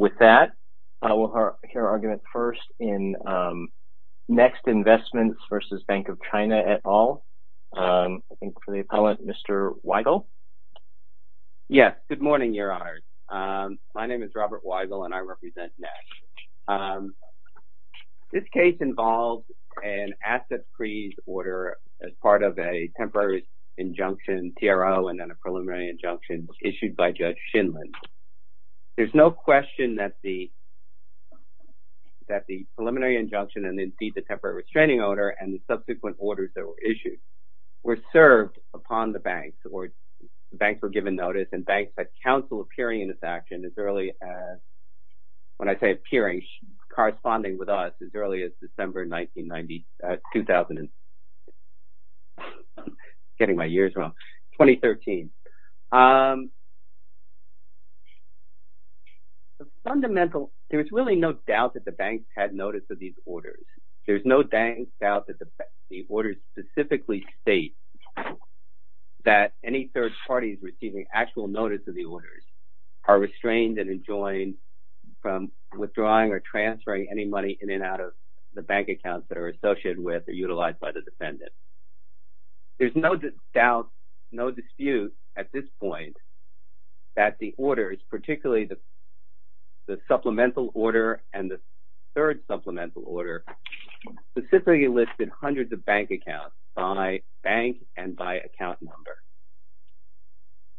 With that, I will hear arguments first in NeXT Investments v. Bank of China et al. I think they call it Mr. Weigel. Yes. Good morning, your honor. My name is Robert Weigel, and I represent NeXT. This case involves an asset freeze order as part of a temporary injunction, TRO, and then a preliminary injunction issued by Judge Shindlin. There is no question that the preliminary injunction and, indeed, the temporary restraining order and the subsequent orders that were issued were served upon the bank, or the bank were given notice, and banks had counsel appearing in this action as early as, when I say appearing, The fundamental, there's really no doubt that the banks had notice of these orders. There's no doubt that the orders specifically state that any third parties receiving actual notice of the orders are restrained and enjoined from withdrawing or transferring any money in and out of the bank accounts that are associated with or utilized by the defendant. There's no doubt, no dispute at this point that the orders, particularly the supplemental order and the third supplemental order, specifically listed hundreds of bank accounts by bank and by account number.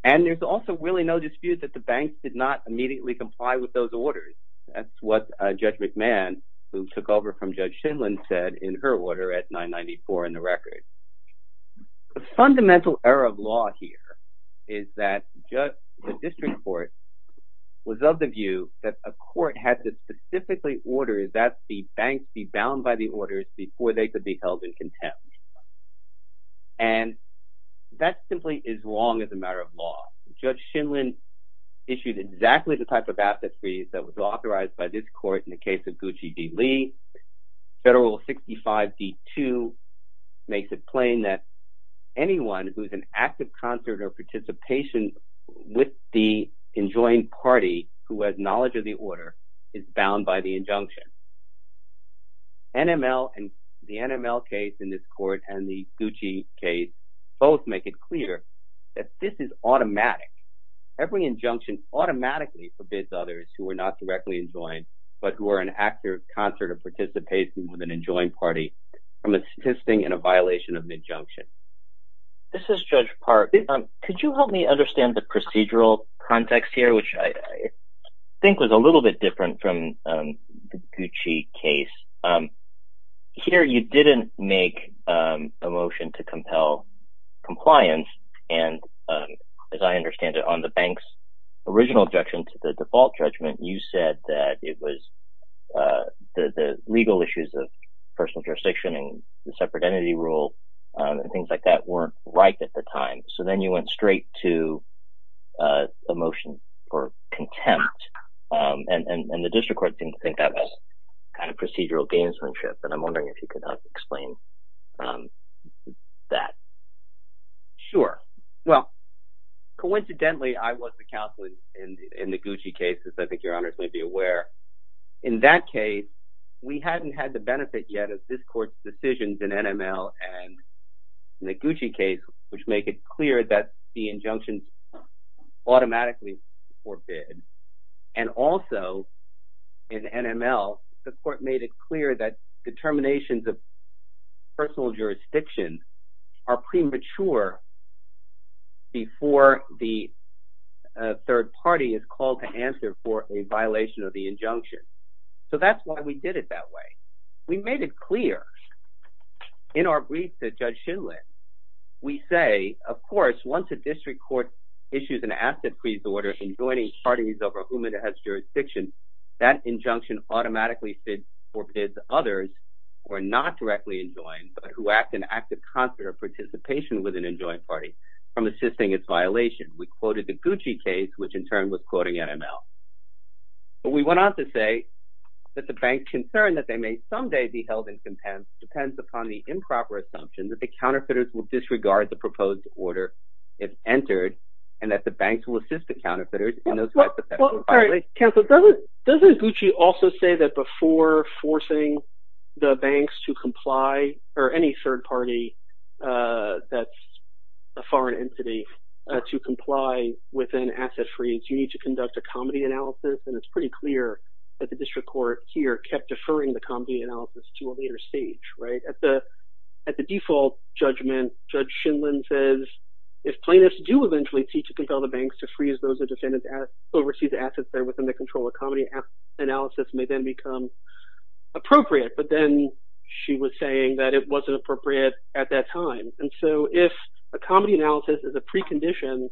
And there's also really no dispute that the banks did not immediately comply with those orders. That's what Judge McMahon, who took over from Judge Shindlin, said in her order at 994 in the record. The fundamental error of law here is that the district court was of the view that a court had to specifically order that the banks be bound by the orders before they could be held in contempt. And that simply is wrong as a matter of law. Judge Shindlin issued exactly the type of absentee that was authorized by this court In the case of Gucci v. Lee, Federal Rule 65d2 makes it plain that anyone who is in active concert or participation with the enjoined party who has knowledge of the order is bound by the injunction. The NML case in this court and the Gucci case both make it clear that this is automatic. Every injunction automatically forbids others who are not directly enjoined but who are in active concert or participation with an enjoined party from assisting in a violation of the injunction. This is Judge Park. Could you help me understand the procedural context here, which I think was a little bit different from the Gucci case. Here you didn't make a motion to compel compliance and as I understand it on the bank's original objection to the default judgment you said that it was the legal issues of personal jurisdiction and the separate entity rule and things like that weren't right at the time. So then you went straight to a motion for contempt and the district court didn't think that was procedural gamesmanship and I'm wondering if you could help explain that. Sure. Well coincidentally I was the counsel in the Gucci case as I think your honors may be aware. In that case we hadn't had the benefit yet of this court's decisions in NML and the Gucci case which make it clear that the injunctions automatically forbid and also in NML the court made it clear that determinations of personal jurisdiction are premature before the third party is called to answer for a violation of the injunction. So that's why we did it that way. We made it clear in our brief that Judge Schindler we say of course once a district court issues an asset freeze order enjoining parties over whom it has jurisdiction that injunction automatically forbids others who are not directly enjoined but who act in active concert of participation with an enjoined party from assisting its violation. We quoted the Gucci case which in turn was quoting NML. But we went on to say that the bank concern that they may someday be held in contempt depends upon the improper assumption that the counterfeiters will disregard the proposed order if entered and that the bank will assist the counterfeiters. Doesn't Gucci also say that before forcing the banks to comply or any third party that's foreign entity to comply with an asset freeze you need to conduct a comedy analysis and it's pretty clear that the district court here kept deferring the comedy analysis to a later stage, right? At the default judgment Judge Schindler says if plaintiffs do eventually seek to compel the banks to freeze those who oversee the assets there within the control of comedy analysis may then become appropriate. But then she was saying that it wasn't appropriate at that time. And so if a comedy analysis is a precondition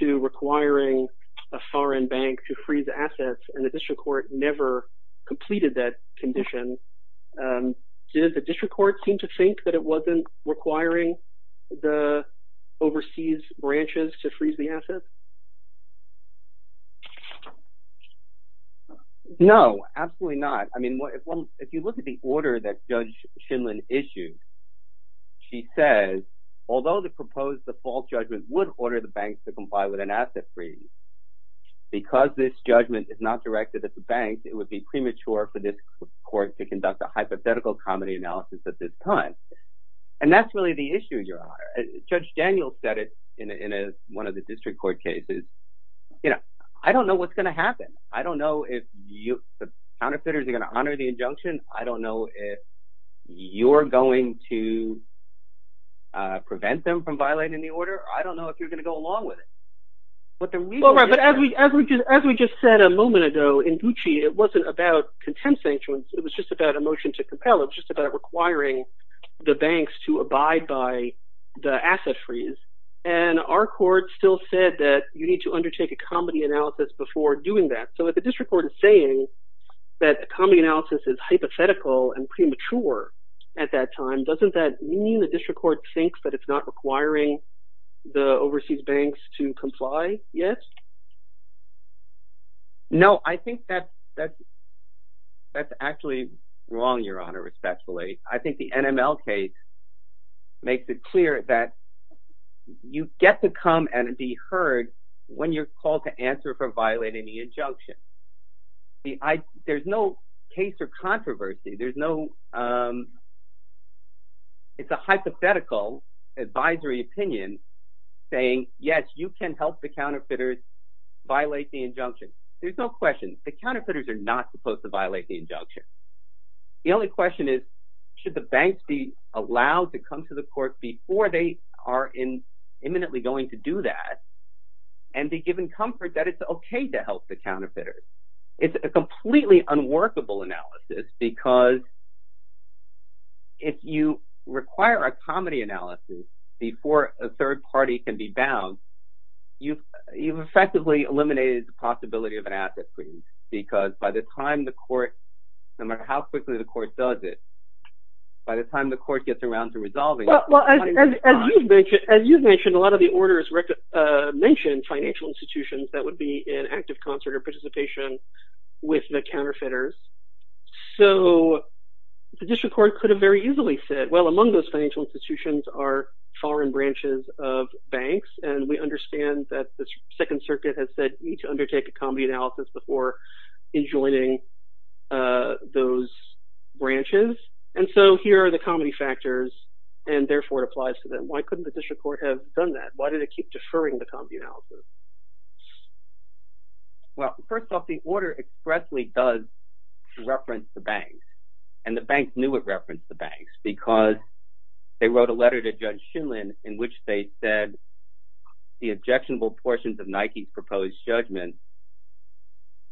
to requiring a foreign bank to freeze the assets and the district court never completed that condition, did the district court seem to think that it wasn't requiring the overseas branches to freeze the assets? No, absolutely not. If you look at the order that Judge Schindler issued, she says, although the proposed default judgment would order the banks to comply with an asset freeze because this judgment is not directed at the banks, it would be premature for this court to conduct a hypothetical comedy analysis at this time. And that's really the issue, Your Honor. Judge Daniel said it in one of the district court cases. I don't know what's going to happen. I don't know if the counterfeiters are going to honor the injunction. I don't know if you're going to prevent them from violating the order. I don't know if you're going to go along with it. As we just said a moment ago in Gucci, it wasn't about contempt sanctions. It was just about a motion to compel. It's just about requiring the banks to abide by the asset freeze. And our court still said that you need to undertake a comedy analysis before doing that. So if the district court is saying that a comedy analysis is hypothetical and premature at that time, doesn't that mean the district court thinks that it's not requiring the overseas banks to comply yet? No, I think that's actually wrong, Your Honor, successfully. I think the NML case makes it clear that you get to come and be heard when you're called to answer for violating the injunction. There's no case or controversy. It's a hypothetical advisory opinion saying, yes, you can help the counterfeiters violate the injunction. There's no question. The counterfeiters are not supposed to violate the injunction. The only question is, should the bank be allowed to come to the court before they are imminently going to do that and be given comfort that it's OK to help the counterfeiters? It's a completely unworkable analysis because if you require a comedy analysis before a third party can be bound, you've effectively eliminated the possibility of an asset freeze because by the time the court, no matter how quickly the court does it, by the time the court gets around to resolving it. As you mentioned, a lot of the orders mentioned financial institutions that would be in active concert or participation with the counterfeiters, so the district court could have very easily said, well, among those financial institutions are foreign branches of banks, and we understand that the Second Circuit has said we need to undertake a comedy analysis before enjoining those branches. And so here are the comedy factors, and therefore it applies to them. Why couldn't the district court have done that? Why did it keep deferring the comedy analysis? Well, first off, the order expressly does reference the banks, and the banks knew it referenced the banks because they wrote a letter to Judge Shulman in which they said the objectionable portions of Nike's proposed judgment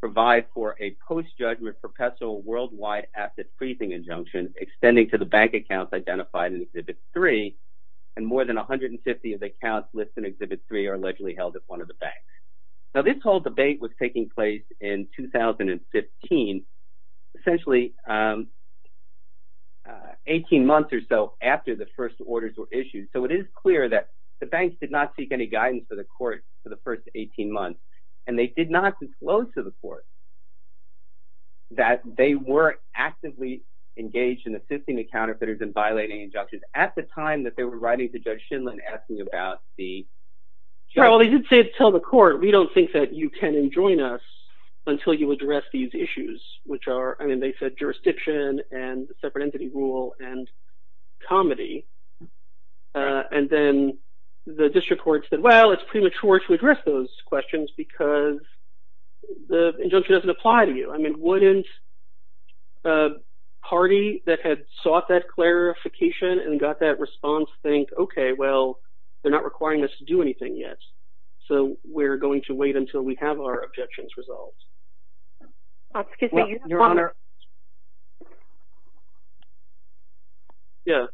provide for a post-judgment perpetual worldwide asset freezing injunction extending to the bank accounts identified in Exhibit 3, and more than 150 of the accounts listed in Exhibit 3 are allegedly held at one of the banks. Now, this whole debate was taking place in 2015, essentially 18 months or so after the first orders were issued. So it is clear that the banks did not seek any guidance for the court for the first 18 months, and they did not disclose to the court that they were actively engaged in assisting the counterfeiters in violating injunctions at the time that they were writing to Judge Shulman asking about the... Sure, well, they did say to tell the court, we don't think that you can enjoin us until you address these issues, which are, I mean, they said jurisdiction and separate entity rule and comedy, and then the district court said, well, it's premature to address those questions because the injunction doesn't apply to you. I mean, wouldn't a party that had sought that clarification and got that response think, okay, well, they're not requiring us to do anything yet, so we're going to wait until we have our objections resolved? Excuse me, your honor. Your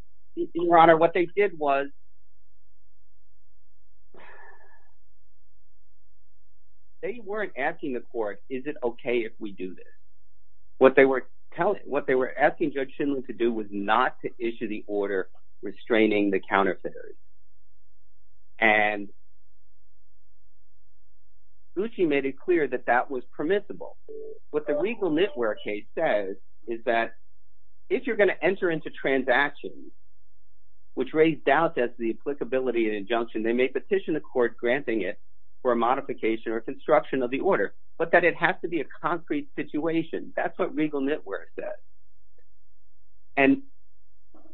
honor, what they did was, they weren't asking the court, is it okay if we do this? What they were asking Judge Shulman to do was not to issue the order restraining the What the legal network case says is that if you're going to enter into transactions, which raised doubt as to the applicability and injunction, they may petition the court granting it for a modification or construction of the order, but that it has to be a concrete situation. That's what legal network says, and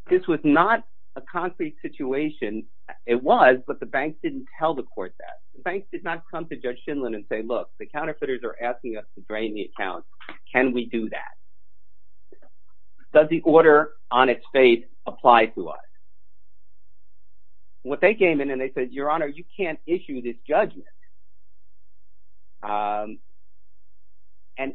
this was not a concrete situation. It was, but the banks didn't tell the court that. Banks did not come to Judge Shulman and say, look, the counterfeiters are asking us to drain the account. Can we do that? Does the order on its face apply to us? What they came in and they said, your honor, you can't issue this judgment. And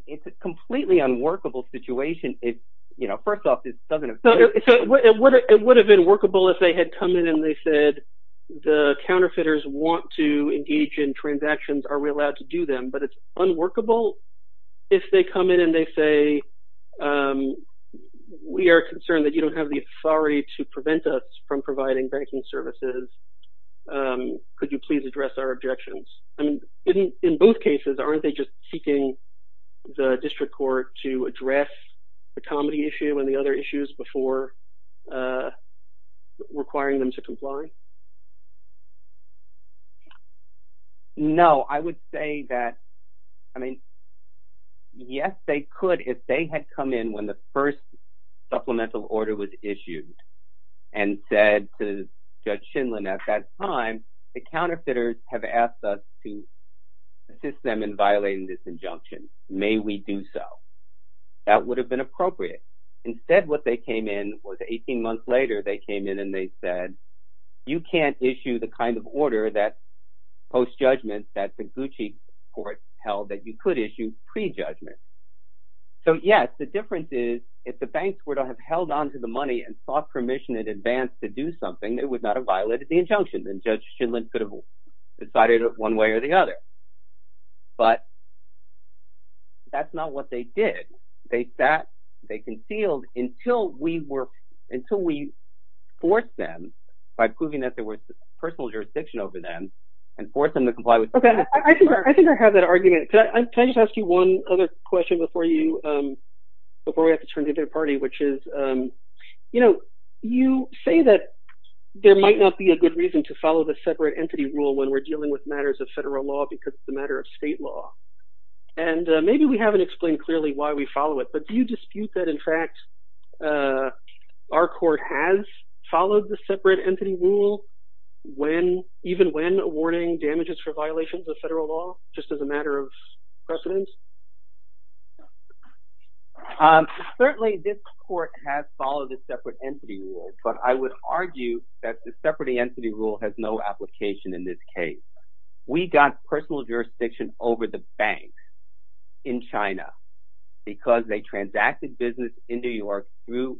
it's a completely unworkable situation. It's, you know, first off, it doesn't. It would have been workable if they had come in and they said, the counterfeiters want to engage in transactions. Are we allowed to do them? But it's unworkable if they come in and they say, we are concerned that you don't have the authority to prevent us from providing banking services. Could you please address our objections? And in both cases, aren't they just seeking the district court to address the comedy issue and the other issues before requiring them to comply? No, I would say that, I mean, yes, they could if they had come in when the first supplemental order was issued and said to Judge Shulman at that time, the counterfeiters have asked us to assist them in violating this injunction. May we do so? That would have been appropriate. Instead, what they came in was 18 months later, they came in and they said, you can't issue the kind of order that post-judgment that the Gucci court held that you could issue pre-judgment. So, yes, the difference is if the banks would have held on to the money and sought permission in advance to do something, they would not have violated the injunction and Judge Shulman could have decided it one way or the other. But that's not what they did. They sat, they concealed until we forced them by proving that there was personal jurisdiction over them and forced them to comply with- Okay, I think I have that argument. Can I just ask you one other question before we have to turn to the other party, which is, you say that there might not be a good reason to follow the separate entity rule when we're dealing with matters of federal law because it's a matter of state law. And maybe we haven't explained clearly why we follow it, but do you dispute that, in fact, our court has followed the separate entity rule even when awarding damages for violations of federal law, just as a matter of precedent? Certainly, this court has followed the separate entity rule, but I would argue that the separate entity rule has no application in this case. We got personal jurisdiction over the banks in China because they transacted business in New York through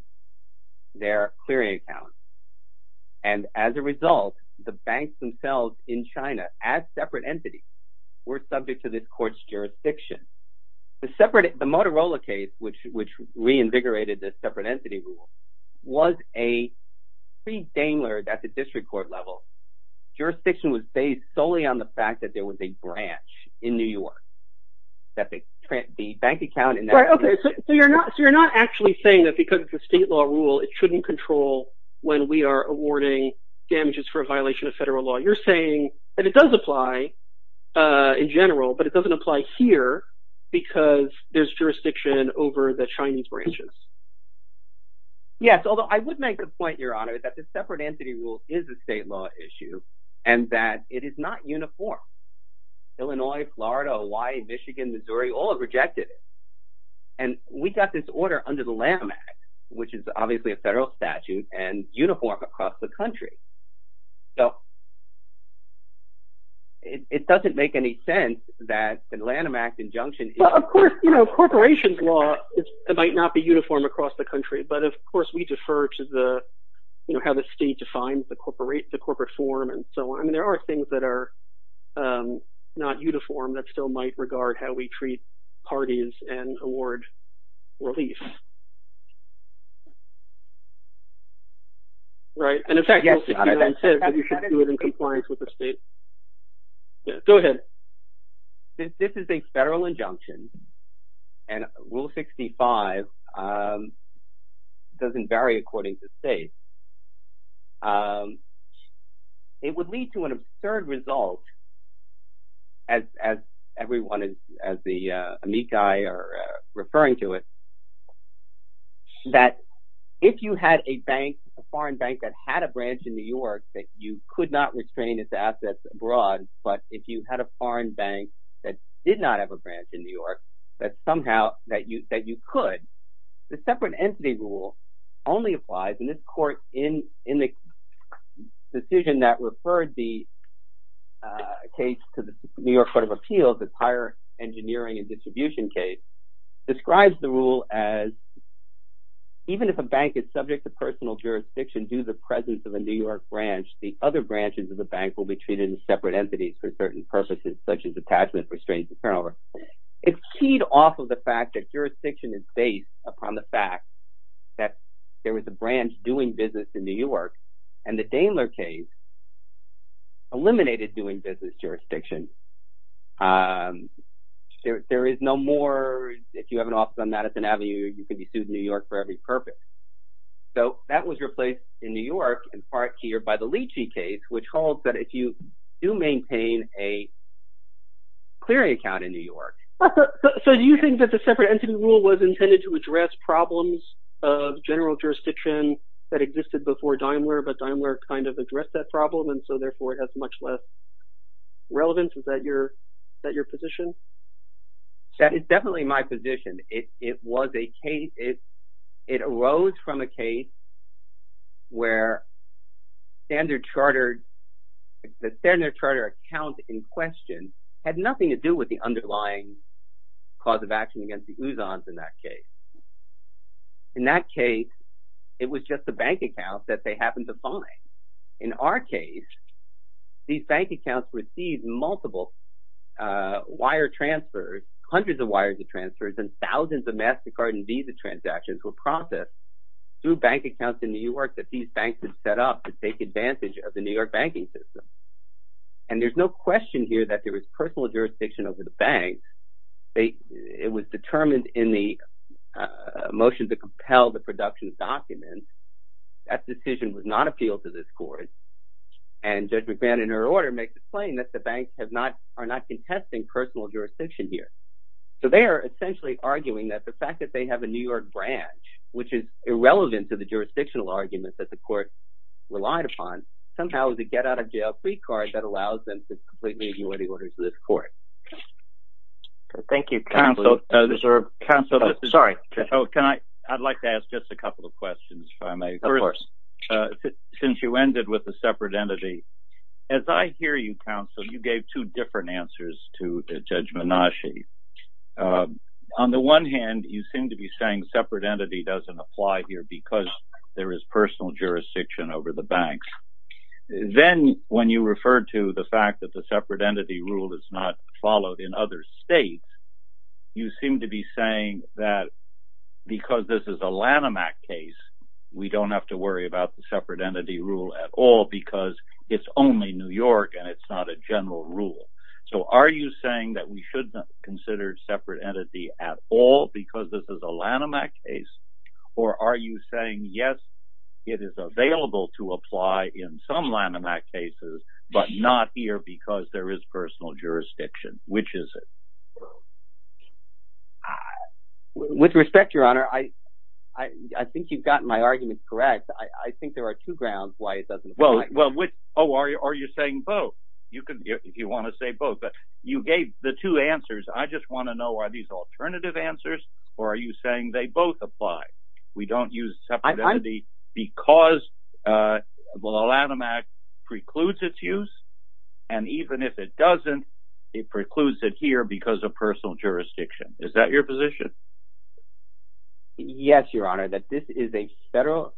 their clearing account. And as a result, the banks themselves in China, as separate entities, were subject to this court's jurisdiction. The Motorola case, which reinvigorated the separate entity rule, was a pre-Daimler at the district court level. Jurisdiction was based solely on the fact that there was a branch in New York that the bank account in that case... Right, okay, so you're not actually saying that because it's a state law rule, it shouldn't control when we are awarding damages for a violation of federal law. You're saying that it does apply in general, but it doesn't apply here because there's jurisdiction over the Chinese branches. Yes, although I would make the point, Your Honor, that the separate entity rule is a separate issue and that it is not uniform. Illinois, Florida, Hawaii, Michigan, Missouri, all have rejected it. And we got this order under the Lanham Act, which is obviously a federal statute and uniform across the country. So it doesn't make any sense that the Lanham Act injunction... Of course, corporation's law might not be uniform across the country, but of course we defer to how the state defines the corporate form and so on. There are things that are not uniform that still might regard how we treat parties and award relief. Right, and in fact, you should do it in compliance with the state. Go ahead. Since this is a federal injunction and Rule 65 doesn't vary according to state, it would lead to an absurd result, as everyone, as the amici are referring to it, that if you had a bank, a foreign bank that had a branch in New York, that you could not restrain its foreign bank that did not have a branch in New York, that somehow that you could. The separate entity rule only applies in this court in the decision that referred the case to the New York Court of Appeals as higher engineering and distribution case, describes the rule as even if a bank is subject to personal jurisdiction due to the presence of a New York branch, the other branches of the bank will be treated as separate entities for certain purposes, such as detachment, restraints, et cetera. It's keyed off of the fact that jurisdiction is based upon the fact that there was a branch doing business in New York and the Daimler case eliminated doing business jurisdiction. There is no more. If you have an office on Madison Avenue, you can be sued in New York for every purpose. So that was replaced in New York in part here by the Leachy case, which holds that if you do maintain a clearing account in New York. So do you think that the separate entity rule was intended to address problems of general jurisdiction that existed before Daimler, but Daimler kind of addressed that problem and so therefore it has much less relevance? Is that your position? That is definitely my position. It was a case, it arose from a case where standard charter, the standard charter account in question had nothing to do with the underlying cause of action against the Usans in that case. In that case, it was just a bank account that they happened to find. In our case, these bank accounts received multiple wire transfers, hundreds of wires and thousands of MasterCard and Visa transactions were processed through bank accounts in New York that these banks had set up to take advantage of the New York banking system. And there's no question here that there was personal jurisdiction over the bank. It was determined in the motion to compel the production document, that decision would not appeal to this court. And Judge McBain in her order makes it plain that the banks are not contesting personal jurisdiction here. So they are essentially arguing that the fact that they have a New York branch, which is irrelevant to the jurisdictional arguments that the court relied upon, somehow is a get-out-of-jail-free card that allows them to completely ignore the orders of this court. Thank you counsel. I'd like to ask just a couple of questions. Since you ended with a separate entity, as I hear you counsel, you gave two different to Judge Menasche. On the one hand, you seem to be saying separate entity doesn't apply here because there is personal jurisdiction over the banks. Then when you referred to the fact that the separate entity rule is not followed in other states, you seem to be saying that because this is a Lanham Act case, we don't have to worry about the separate entity rule at all because it's only New York and it's not a general rule. So are you saying that we should not consider separate entity at all because this is a Lanham Act case? Or are you saying, yes, it is available to apply in some Lanham Act cases, but not here because there is personal jurisdiction? Which is it? With respect, your honor, I think you've gotten my argument correct. I think there are two grounds why it doesn't apply. Well, which? Oh, are you saying both? You can, if you want to say both, but you gave the two answers. I just want to know, are these alternative answers or are you saying they both apply? We don't use separate entity because the Lanham Act precludes its use and even if it doesn't, it precludes it here because of personal jurisdiction. Is that your position? Yes, your honor, that this is a federal,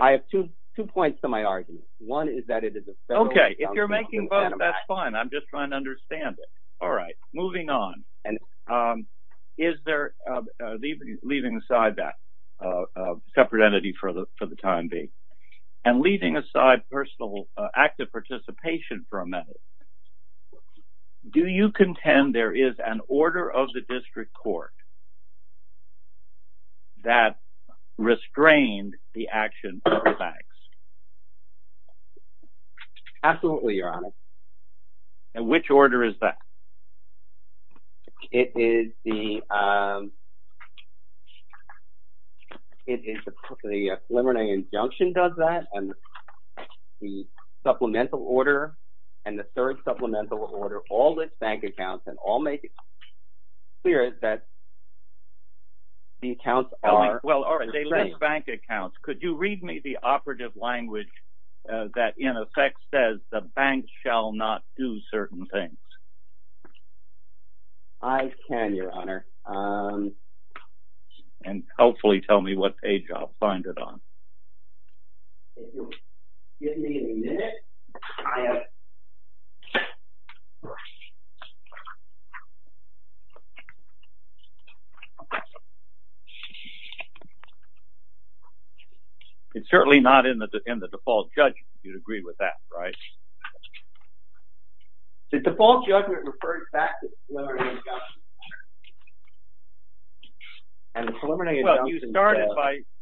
I have two points to my argument. One is that it is a federal. If you're making both, that's fine. I'm just trying to understand it. All right, moving on. Is there, leaving aside that separate entity for the time being and leaving aside personal active participation for a minute, do you contend there is an order of the district court that restrained the action of the banks? Absolutely, your honor. And which order is that? It is the preliminary injunction does that and the supplemental order and the third supplemental order, all the bank accounts and all make it clear that the accounts are- Well, all right, they let bank accounts. Could you read me the operative language that in effect says the bank shall not do certain things? I can, your honor. And hopefully tell me what page I'll find it on. If you'll give me a minute, I have- It's certainly not in the default judgment. You'd agree with that, right? The default judgment refers back to the preliminary injunction and the preliminary injunction-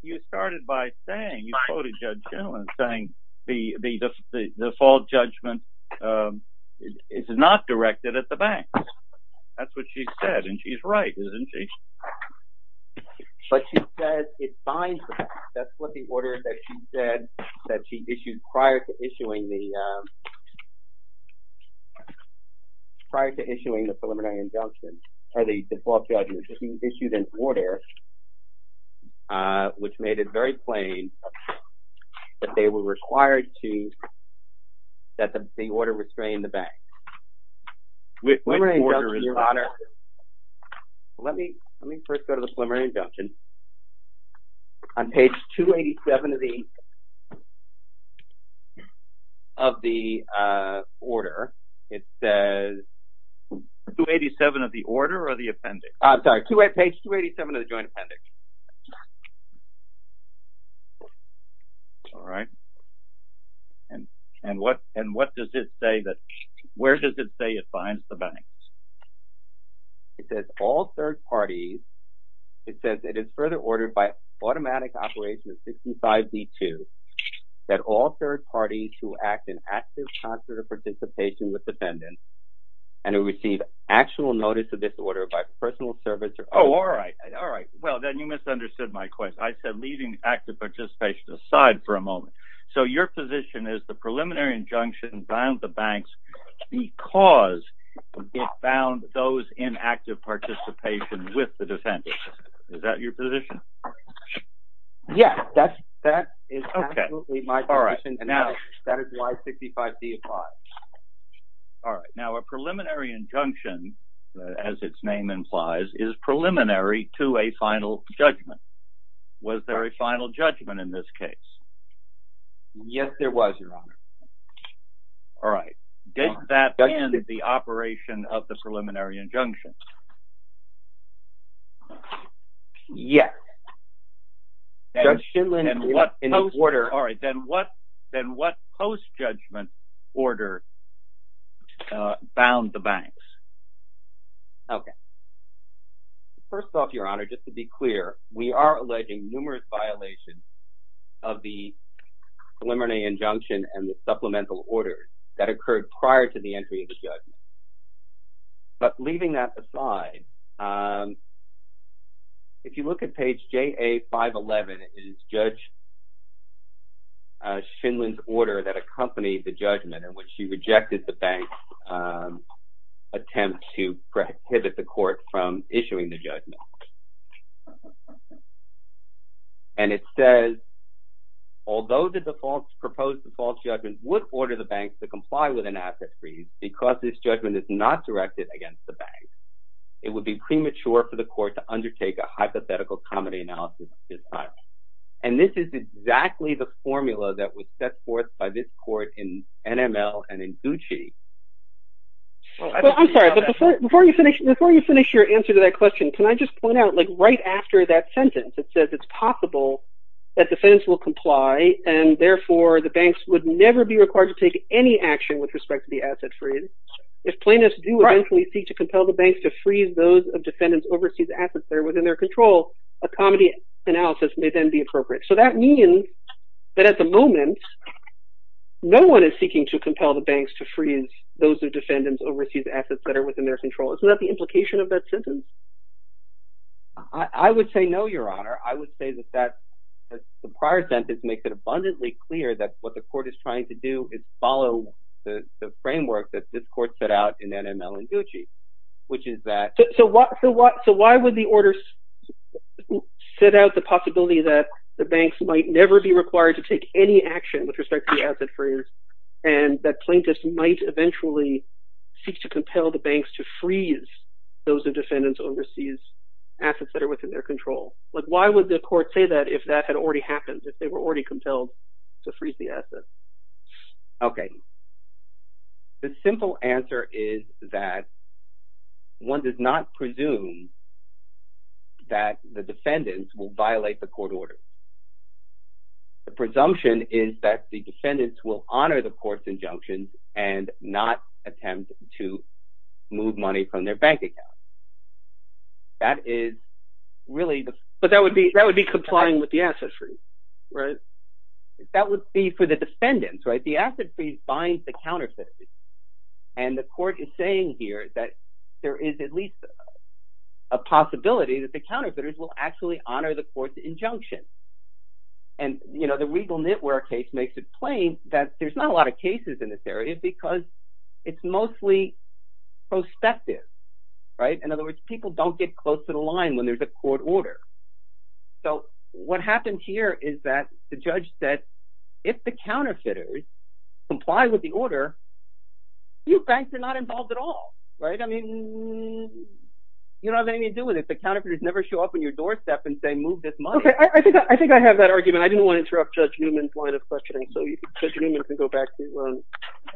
You started by saying, you quoted Judge Genlin saying the default judgment is not directed at the bank. That's what she said and she's right, isn't she? But she said it's fine, that's what the order that she said that she issued prior to issuing the preliminary injunction or the default judgment. She issued an order which made it very plain that they were required to, that the order restrained the bank. Let me first go to the preliminary injunction. On page 287 of the order, it says- 287 of the order or the appendix? I'm sorry, page 287 of the joint appendix. All right, and what does it say that, where does it say it finds the bank? It says all third parties, it says it is further ordered by automatic operation 65B2 that all third parties who act in active concert of participation with the defendant and who receive actual notice of disorder by personal service or- Oh, all right, all right. Well, then you misunderstood my question. I said leaving active participation aside for a moment. So your position is the preliminary injunction bound the banks because it bound those in active participation with the defendant. Is that your position? Yes, that is absolutely my position. That is why 65B applies. All right. Now a preliminary injunction, as its name implies, is preliminary to a final judgment. Was there a final judgment in this case? Yes, there was, your honor. All right. Did that end the operation of the preliminary injunction? Yes. All right, then what post-judgment order bound the banks? Okay. First off, your honor, just to be clear, we are alleging numerous violations of the preliminary injunction and the supplemental order that occurred prior to the entry of the judge. But leaving that aside, if you look at page JA-511, it is Judge Shinlin's order that accompanied the judgment in which she rejected the bank's attempt to prohibit the court from issuing the judgment. And it says, although the defaults proposed to false judgments would order the banks to not direct it against the bank, it would be premature for the court to undertake a hypothetical common analysis. And this is exactly the formula that was set forth by this court in NML and in Gucci. I'm sorry, before you finish your answer to that question, can I just point out, like right after that sentence, it says it's possible that defense will comply, and therefore the banks would never be required to take any action with respect to the asset free. If plaintiffs do eventually seek to compel the banks to freeze those of defendants' overseas assets that are within their control, a comedy analysis may then be appropriate. So that means that at the moment, no one is seeking to compel the banks to freeze those of defendants' overseas assets that are within their control. Isn't that the implication of that sentence? I would say no, your honor. I would say that the prior sentence makes it abundantly clear that what the court is trying to do is follow the framework that this court set out in NML and Gucci, which is that- So why would the order set out the possibility that the banks might never be required to take any action with respect to the asset free, and that plaintiffs might eventually seek to compel the banks to freeze those of defendants' overseas assets that are within their control? But why would the court say that if that had already happened, if they were already compelled to freeze the assets? Okay. The simple answer is that one does not presume that the defendants will violate the court order. The presumption is that the defendants will honor the court's injunctions and not attempt to move money from their bank account. That is really the- But that would be complying with the asset free, right? That would be for the defendants, right? The asset free binds the counterfeiters, and the court is saying here that there is at least a possibility that the counterfeiters will actually honor the court's injunction. And, you know, the Regal Network case makes it plain that there's not a lot of cases in this area because it's mostly prospective, right? In other words, people don't get close to the line when there's a court order. So what happened here is that the judge said, if the counterfeiters comply with the order, you banks are not involved at all, right? I mean, you don't have anything to do with it. The counterfeiters never show up on your doorstep and say, move this money. Okay, I think I have that argument. I didn't want to interrupt Judge Newman's line of questioning. So Judge Newman, you can go back to-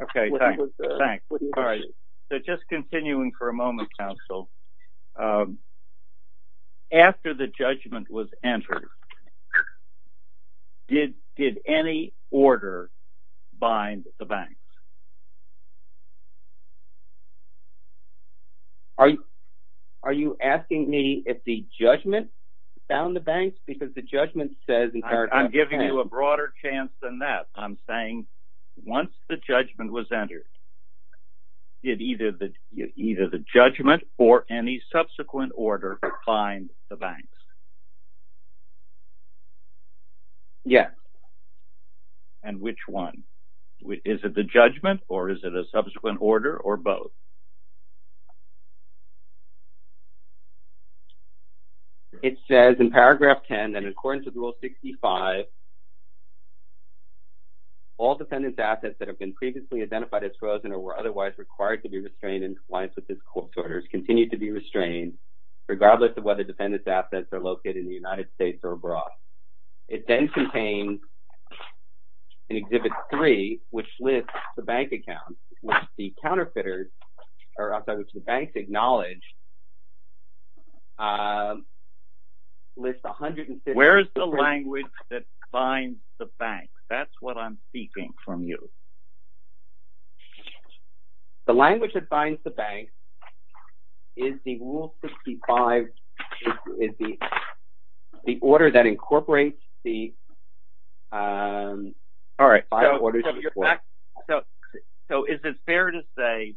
Okay, thanks. So just continuing for a moment, counsel. After the judgment was entered, did any order bind the bank? Are you asking me if the judgment found the bank? Because the judgment says- I'm giving you a broader chance than that. I'm saying once the judgment was entered, did either the judgment or any subsequent order bind the bank? Yes. And which one? Is it the judgment or is it a subsequent order or both? It says in paragraph 10, that according to rule 65, all defendant's assets that have been previously identified as frozen or were otherwise required to be restrained in compliance with this court's orders continue to be restrained, regardless of whether defendant's assets are located in the United States or abroad. It then contains an exhibit three, which lists the bank account, which the counterfeiters, or I'm sorry, which the banks acknowledge, lists 150- Where is the language that- Binds the bank. That's what I'm seeking from you. The language that binds the bank is the rule 65, is the order that incorporates the- All right. So is it fair to say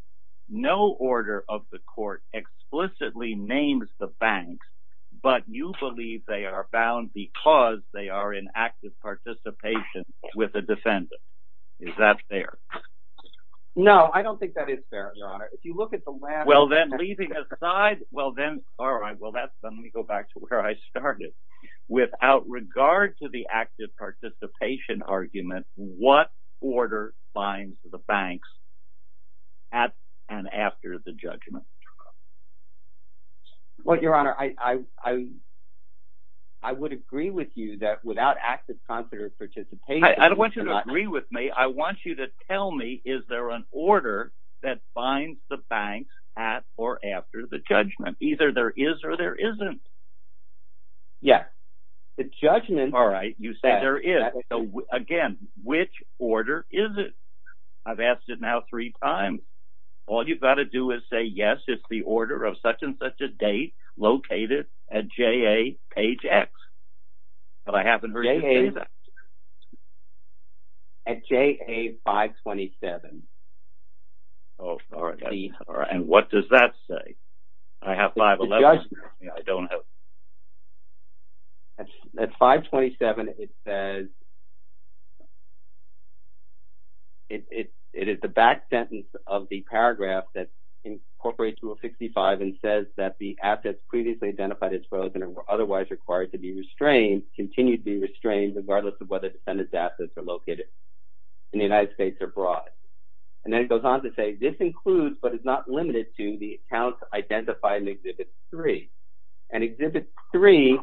no order of the court explicitly named the bank, but you believe they are bound because they are in active participation with a defendant? Is that fair? No, I don't think that is fair, Your Honor. If you look at the last- Well, then, leaving aside- Well, then, all right. Well, that's- Let me go back to where I started. Without regard to the active participation argument, what order binds the banks at and after the judgment? Well, Your Honor, I would agree with you that without active- I don't want you to agree with me. I want you to tell me, is there an order that binds the bank at or after the judgment? Either there is or there isn't. Yeah. The judgment- All right. You say there is. Again, which order is it? I've asked it now three times. All you've got to do is say, yes, it's the order of such and such a date located at J.A. page X. But I haven't heard you say that. At J.A. 527. Oh, all right. And what does that say? Do I have 511? I don't know. At 527, it says- It is the back sentence of the paragraph that incorporates Rule 65 and says that the assets previously identified as frozen or otherwise required to be restrained continue to be restrained regardless of whether defendant's assets are located in the United States or abroad. And then it goes on to say, this includes, but is not limited to, the accounts identified in Exhibit 3. And Exhibit 3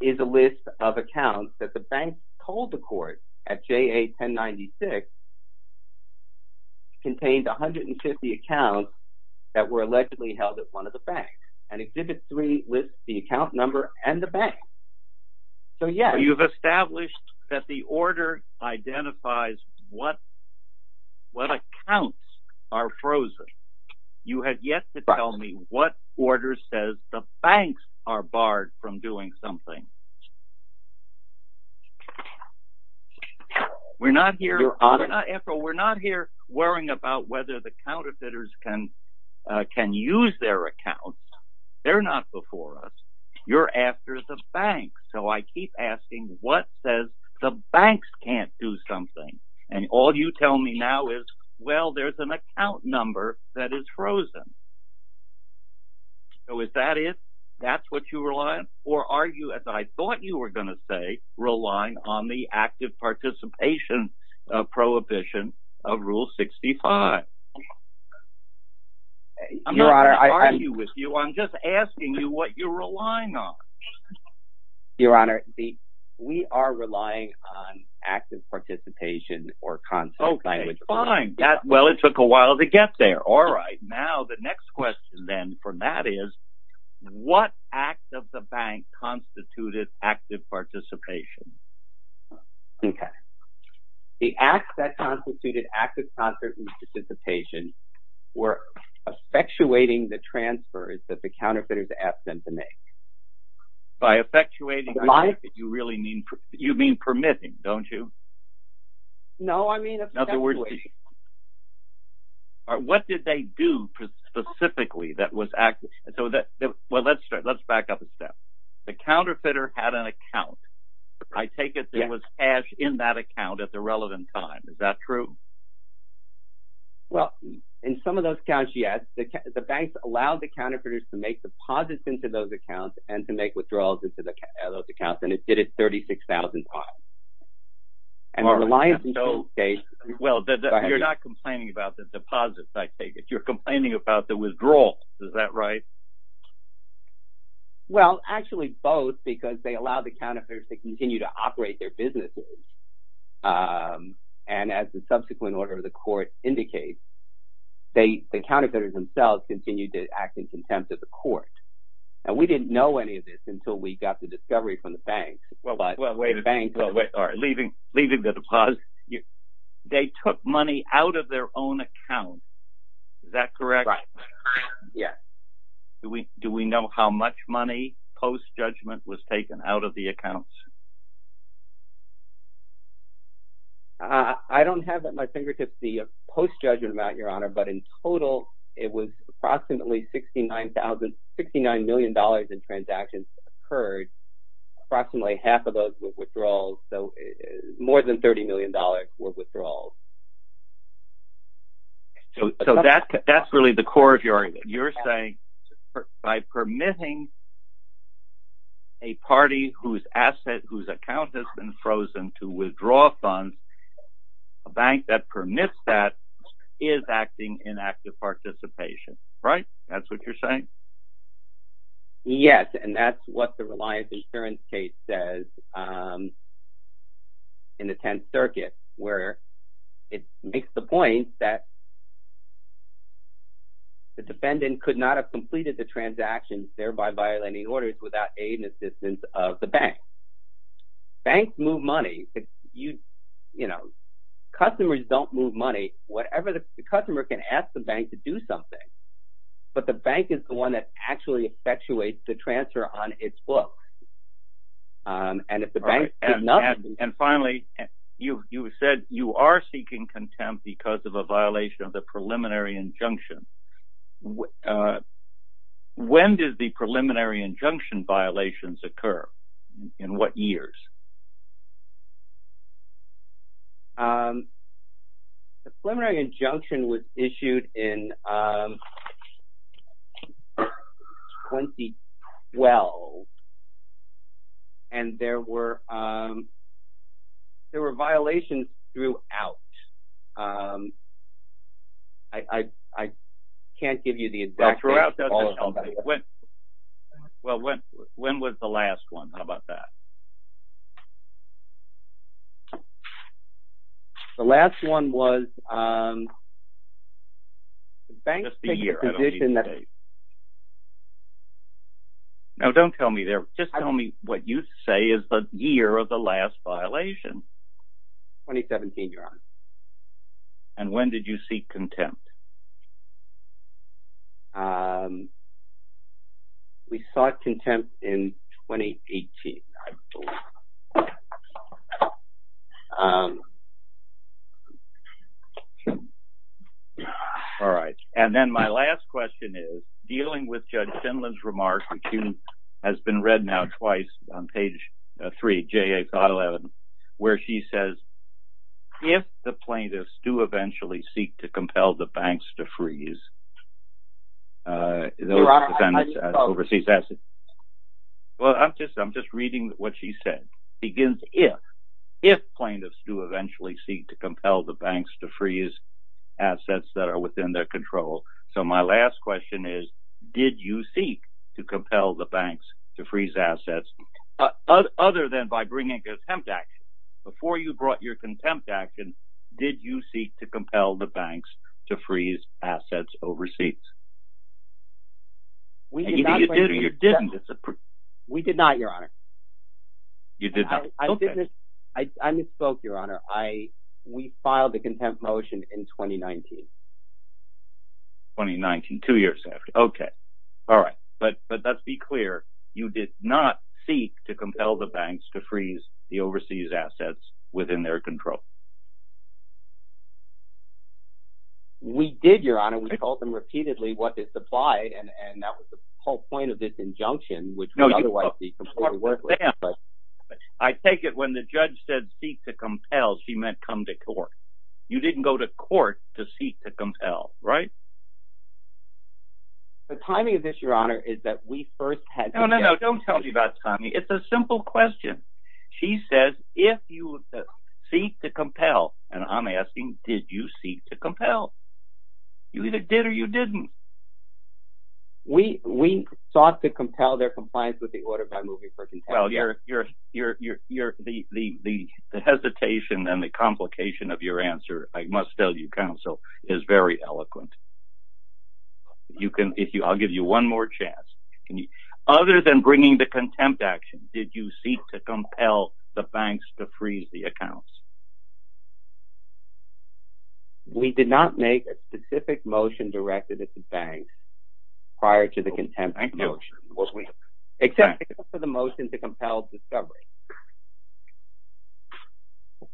is a list of accounts that the bank told the court at J.A. 1096 contained 150 accounts that were allegedly held at one of the banks. And Exhibit 3 lists the account number and the bank. So, yeah. You've established that the order identifies what accounts are frozen. You have yet to tell me what order says the banks are barred from doing something. We're not here- You're on it. We're not here worrying about whether the counterfeiters can use their accounts. They're not before us. You're after the banks. So, I keep asking, what says the banks can't do something? And all you tell me now is, well, there's an account number that is frozen. So, is that it? That's what you rely on? Or are you, as I thought you were going to say, relying on the active participation prohibition of Rule 65? Your Honor- I'm not arguing with you. I'm just asking you what you're relying on. Your Honor, we are relying on active participation or- Okay, fine. Well, it took a while to get there. All right. Now, the next question then for Matt is, what act of the bank constituted active participation? Okay. The act that constituted active participation were effectuating the transfers that the counterfeiters asked them to make. By effectuating, you mean permitting, don't you? No, I mean- What did they do specifically that was active? Well, let's start. Let's back up a step. The counterfeiter had an account. I take it there was cash in that account at the relevant time. Is that true? Well, in some of those accounts, yes. The banks allowed the counterfeiters to make deposits into those accounts and to make withdrawals into those accounts. And it did it 36,000 times. And the reliance in some states- Well, you're not complaining about the deposits, I take it. You're complaining about the withdrawals. Is that right? Well, actually both because they allowed the counterfeiters to continue to operate their businesses. And as the subsequent order of the court indicates, the counterfeiters themselves continued to act in contempt of the court. And we didn't know any of this until we got the discovery from the banks. Well, wait, leaving the deposit, they took money out of their own account. Is that correct? Yes. Do we know how much money post-judgment was taken out of the accounts? I don't have at my fingertips the post-judgment amount, Your Honor, but in total, it was approximately $69 million in transactions occurred. Approximately half of those were withdrawals. So more than $30 million were withdrawals. So that's really the core of your saying. By permitting a party whose asset, whose account has been frozen to withdraw funds, a bank that permits that is acting in active participation, right? That's what you're saying? Yes, and that's what the Reliance Insurance case says in the 10th Circuit, where it makes the point that the defendant could not have completed the transactions, thereby violating orders, without aid and assistance of the bank. Banks move money. Customers don't move money. Whatever the customer can ask the bank to do something. But the bank is the one that actually effectuates the transfer on its books. And finally, you said you are seeking contempt because of a violation of the preliminary injunction. When did the preliminary injunction violations occur? In what years? The preliminary injunction was issued in 2012. And there were violations throughout. I can't give you the exact date. Well, when was the last one? How about that? The last one was... No, don't tell me there. Just tell me what you say is the year of the last violation. 2017, Your Honor. And when did you seek contempt? We sought contempt in 2018. All right. And then my last question is, dealing with Judge Sinland's remark, which has been read now twice on page 3, J.A. 511, where she says, if the plaintiffs do eventually seek to compel the banks to freeze those defendants' overseas assets... Your Honor, I didn't follow. Well, I'm just reading what she said. ...begins if, if plaintiffs do eventually seek to compel the banks to freeze assets that are within their control. So my last question is, did you seek to compel the banks to freeze assets, other than by bringing contempt action? Before you brought your contempt action, did you seek to compel the banks to freeze assets overseas? We did not, Your Honor. You did not? I misspoke, Your Honor. We filed the contempt motion in 2019. 2019, two years after. Okay. All right. But let's be clear. You did not seek to compel the banks to freeze the overseas assets within their control? We did, Your Honor. We called them repeatedly what they supplied, and that was the whole point of this injunction, which would otherwise be completely worthless. I take it when the judge said, seek to compel, she meant come to court. You didn't go to court to seek to compel, right? The timing of this, Your Honor, is that we first had... No, no, no. Don't tell me about timing. It's a simple question. She says, if you seek to compel, and I'm asking, did you seek to compel? You either did or you didn't. We sought to compel their compliance with the order by moving for contempt. Well, the hesitation and the complication of your answer, I must tell you, counsel, is very eloquent. I'll give you one more chance. Other than bringing the contempt action, did you seek to compel the banks to freeze the accounts? We did not make a specific motion directed at the banks prior to the contempt motion. Was we? Except for the motion to compel the discovery.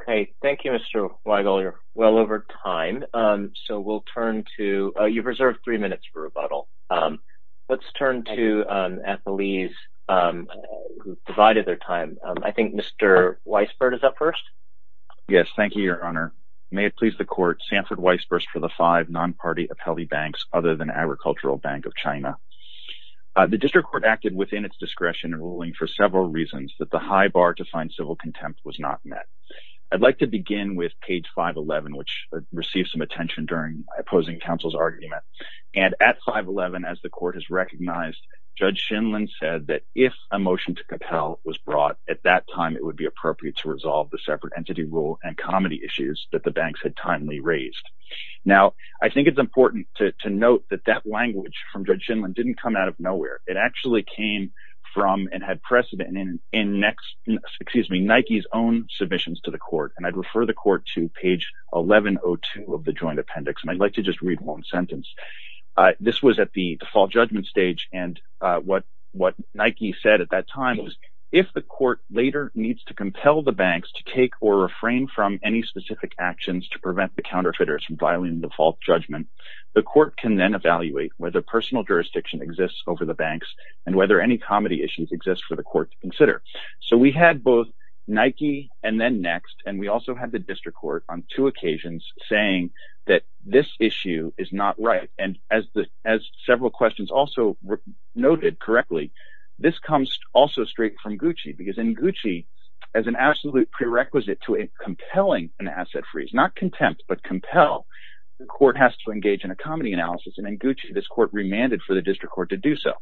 Okay. Thank you, Mr. Weigel. You're well over time, so we'll turn to... You've reserved three minutes for rebuttal. Let's turn to at the lease who provided their time. I think Mr. Weisbord is up first. Yes. Thank you, your honor. May it please the court, Sanford Weisbord for the five non-party of healthy banks, other than Agricultural Bank of China. The district court acted within its discretion ruling for several reasons that the high bar to find civil contempt was not met. I'd like to begin with page 511, which received some attention during opposing counsel's argument. And at 511, as the court has recognized, Judge Shinlin said that if a motion to compel was at that time, it would be appropriate to resolve the separate entity rule and comedy issues that the banks had timely raised. Now, I think it's important to note that that language from Judge Shinlin didn't come out of nowhere. It actually came from and had precedent in Nike's own submissions to the court. And I'd refer the court to page 1102 of the joint appendix. And I'd like to just read one sentence. This was at the fall judgment stage. And what Nike said at that time was if the court later needs to compel the banks to take or refrain from any specific actions to prevent the counterfeiters from filing default judgment, the court can then evaluate whether personal jurisdiction exists over the banks and whether any comedy issues exist for the court to consider. So we had both Nike and then Next. And we also had the district court on two occasions saying that this issue is not right. And as several questions also noted correctly, this comes also straight from Gucci. Because in Gucci, as an absolute prerequisite to compelling an asset freeze, not contempt, but compel, the court has to engage in a comedy analysis. And in Gucci, this court remanded for the district court to do so.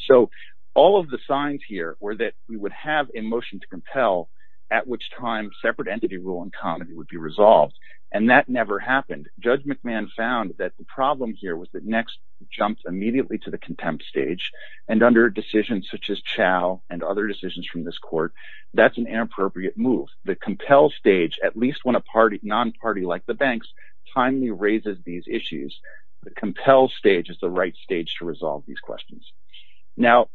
So all of the signs here were that we would have a motion to compel at which time separate entity rule and comedy would be resolved. And that never happened. Judge McMahon found that the problem here was that Next jumped immediately to the contempt stage. And under a decision such as Chow and other decisions from this court, that's an inappropriate move. The compel stage, at least when a non-party like the banks timely raises these issues, the compel stage is the right stage to resolve these questions. Now,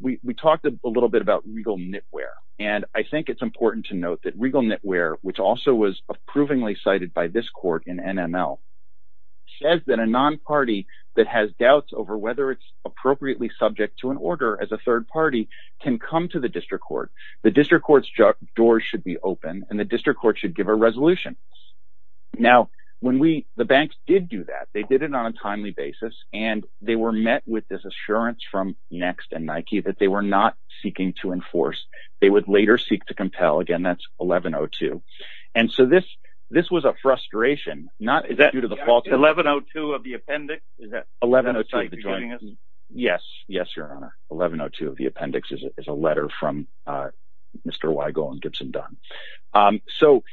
we talked a little bit about regal knitwear. And I think it's important to note that regal knitwear, which also was approvingly cited by this court in NML, says that a non-party that has doubts over whether it's appropriately subject to an order as a third party can come to the district court. The district court's door should be open and the district court should give a resolution. Now, the banks did do that. They did it on a timely basis. And they were met with this assurance from Next and Nike that they were not seeking to enforce. They would later seek to compel. Again, that's 1102. And so this was a frustration. Is that due to the faulty? 1102 of the appendix. Is that the site you're giving us? Yes. Yes, your honor. 1102 of the appendix is a letter from Mr. Weigel and Gibson Dunn. So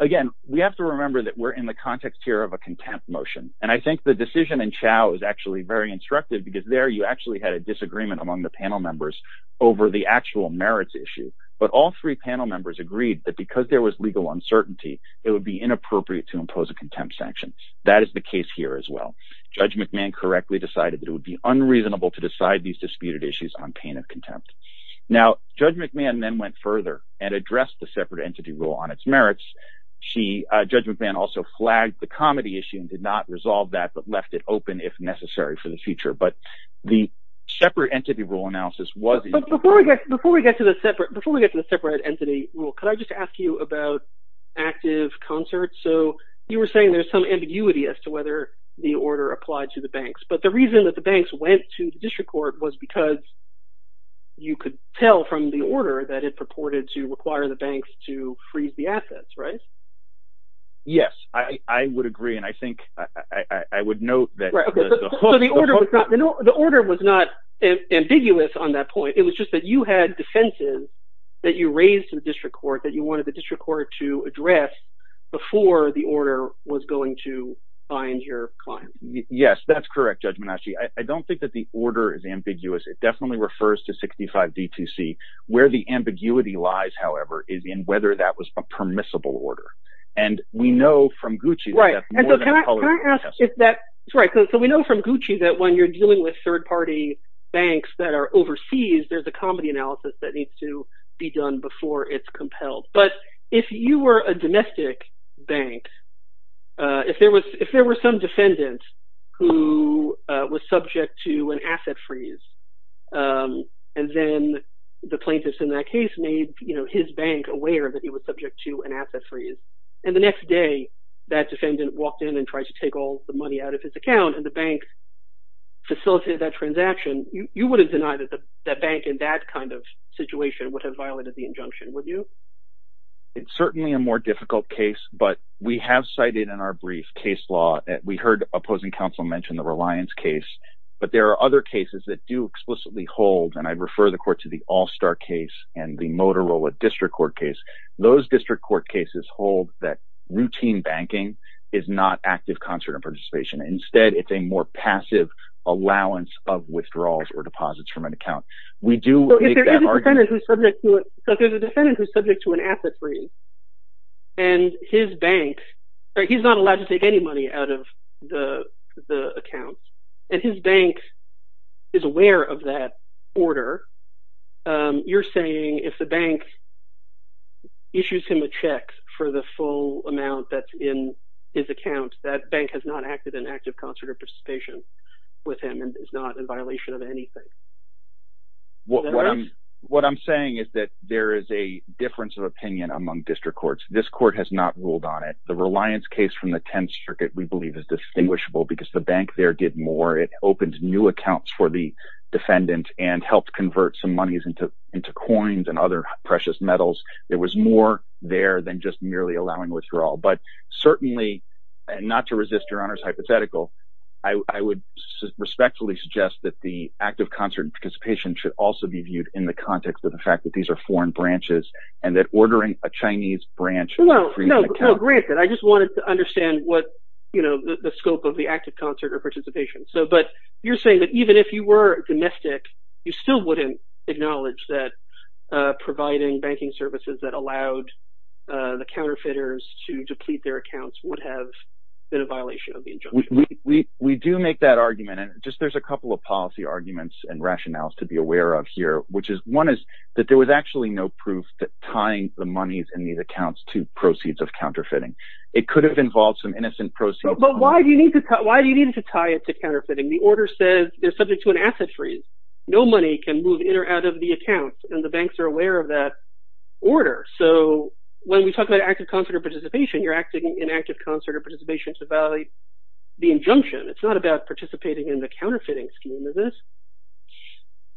again, we have to remember that we're in the context here of a contempt motion. And I think the decision in Chow is actually very instructive because there you actually had a disagreement among the panel members over the actual merits issue. But all three panel members agreed that because there was legal uncertainty, it would be inappropriate to impose a contempt sanction. That is the case here as well. Judge McMahon correctly decided that it would be unreasonable to decide these disputed issues on pain of contempt. Now, Judge McMahon then went further and addressed the separate entity rule on its merits. Judge McMahon also flagged the comedy issue and did not resolve that, but left it open if necessary for the future. But the separate entity rule analysis was... Before we get to the separate entity rule, could I just ask you about active concert? So you were saying there's some ambiguity as to whether the order applied to the banks. But the reason that the banks went to the district court was because you could tell from the order that it purported to require the banks to freeze the assets, right? Yes, I would agree. And I think I would note that... The order was not ambiguous on that point. But you had defenses that you raised to the district court that you wanted the district court to address before the order was going to find your client. Yes, that's correct, Judge Menasci. I don't think that the order is ambiguous. It definitely refers to 65 D2C. Where the ambiguity lies, however, is in whether that was a permissible order. And we know from Gucci... Right, and so can I ask if that... Sorry, so we know from Gucci that when you're dealing with third-party banks that are overseas, there's a comedy analysis that needs to be done before it's compelled. But if you were a domestic bank, if there were some defendant who was subject to an asset freeze, and then the plaintiffs in that case made his bank aware that he was subject to an asset freeze, and the next day that defendant walked in and tried to take all the money out of his account, and the bank facilitated that transaction, you wouldn't deny that the bank in that kind of situation would have violated the injunction, would you? It's certainly a more difficult case. But we have cited in our brief case law that we heard opposing counsel mention the Reliance case. But there are other cases that do explicitly hold, and I refer the court to the All-Star case and the Motorola District Court case. Those district court cases hold that routine banking is not active concert and participation. Instead, it's a more passive allowance of withdrawals or deposits from an account. We do make that argument. If there's a defendant who's subject to an asset freeze, and his bank, he's not allowed to take any money out of the account, and his bank is aware of that order, you're saying if the bank issues him a check for the full amount that's in his account, that bank has not acted in active concert or participation with him and is not in violation of anything. What I'm saying is that there is a difference of opinion among district courts. This court has not ruled on it. The Reliance case from the 10th Circuit, we believe, is distinguishable because the bank there did more. It opened new accounts for the defendant and helped convert some monies into coins and other precious metals. It was more there than just merely allowing withdrawal. But certainly, and not to resist your Honor's hypothetical, I would respectfully suggest that the active concert and participation should also be viewed in the context of the fact that these are foreign branches and that ordering a Chinese branch- Well, granted. I just wanted to understand the scope of the active concert or participation. But you're saying that even if you were domestic, you still wouldn't acknowledge that providing banking services that allowed the counterfeiters to deplete their accounts would have been a violation of the injunction? We do make that argument. And just there's a couple of policy arguments and rationales to be aware of here, which is, one is that there was actually no proof that tying the monies in these accounts to proceeds of counterfeiting. It could have involved some innocent proceeds- But why do you need to tie it to counterfeiting? The order says they're subject to an asset freeze. No money can move in or out of the account. And the banks are aware of that order. So when we talk about active concert or participation, you're acting in active concert or participation to violate the injunction. It's not about participating in the counterfeiting scheme, is it?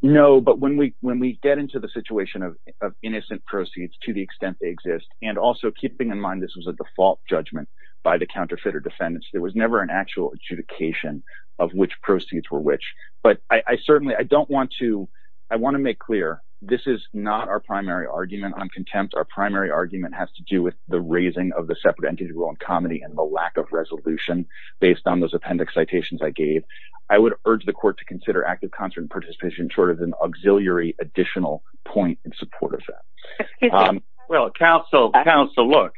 No, but when we get into the situation of innocent proceeds to the extent they exist, and also keeping in mind this was a default judgment by the counterfeiter defendants, there was never an actual adjudication of which proceeds were which. But I certainly, I don't want to, I want to make clear, this is not our primary argument on contempt. Our primary argument has to do with the raising of the separate entity rule on comedy and the lack of resolution based on those appendix citations I gave. I would urge the court to consider active concert and participation short of an auxiliary additional point in support of that. Well, counsel, counsel, look,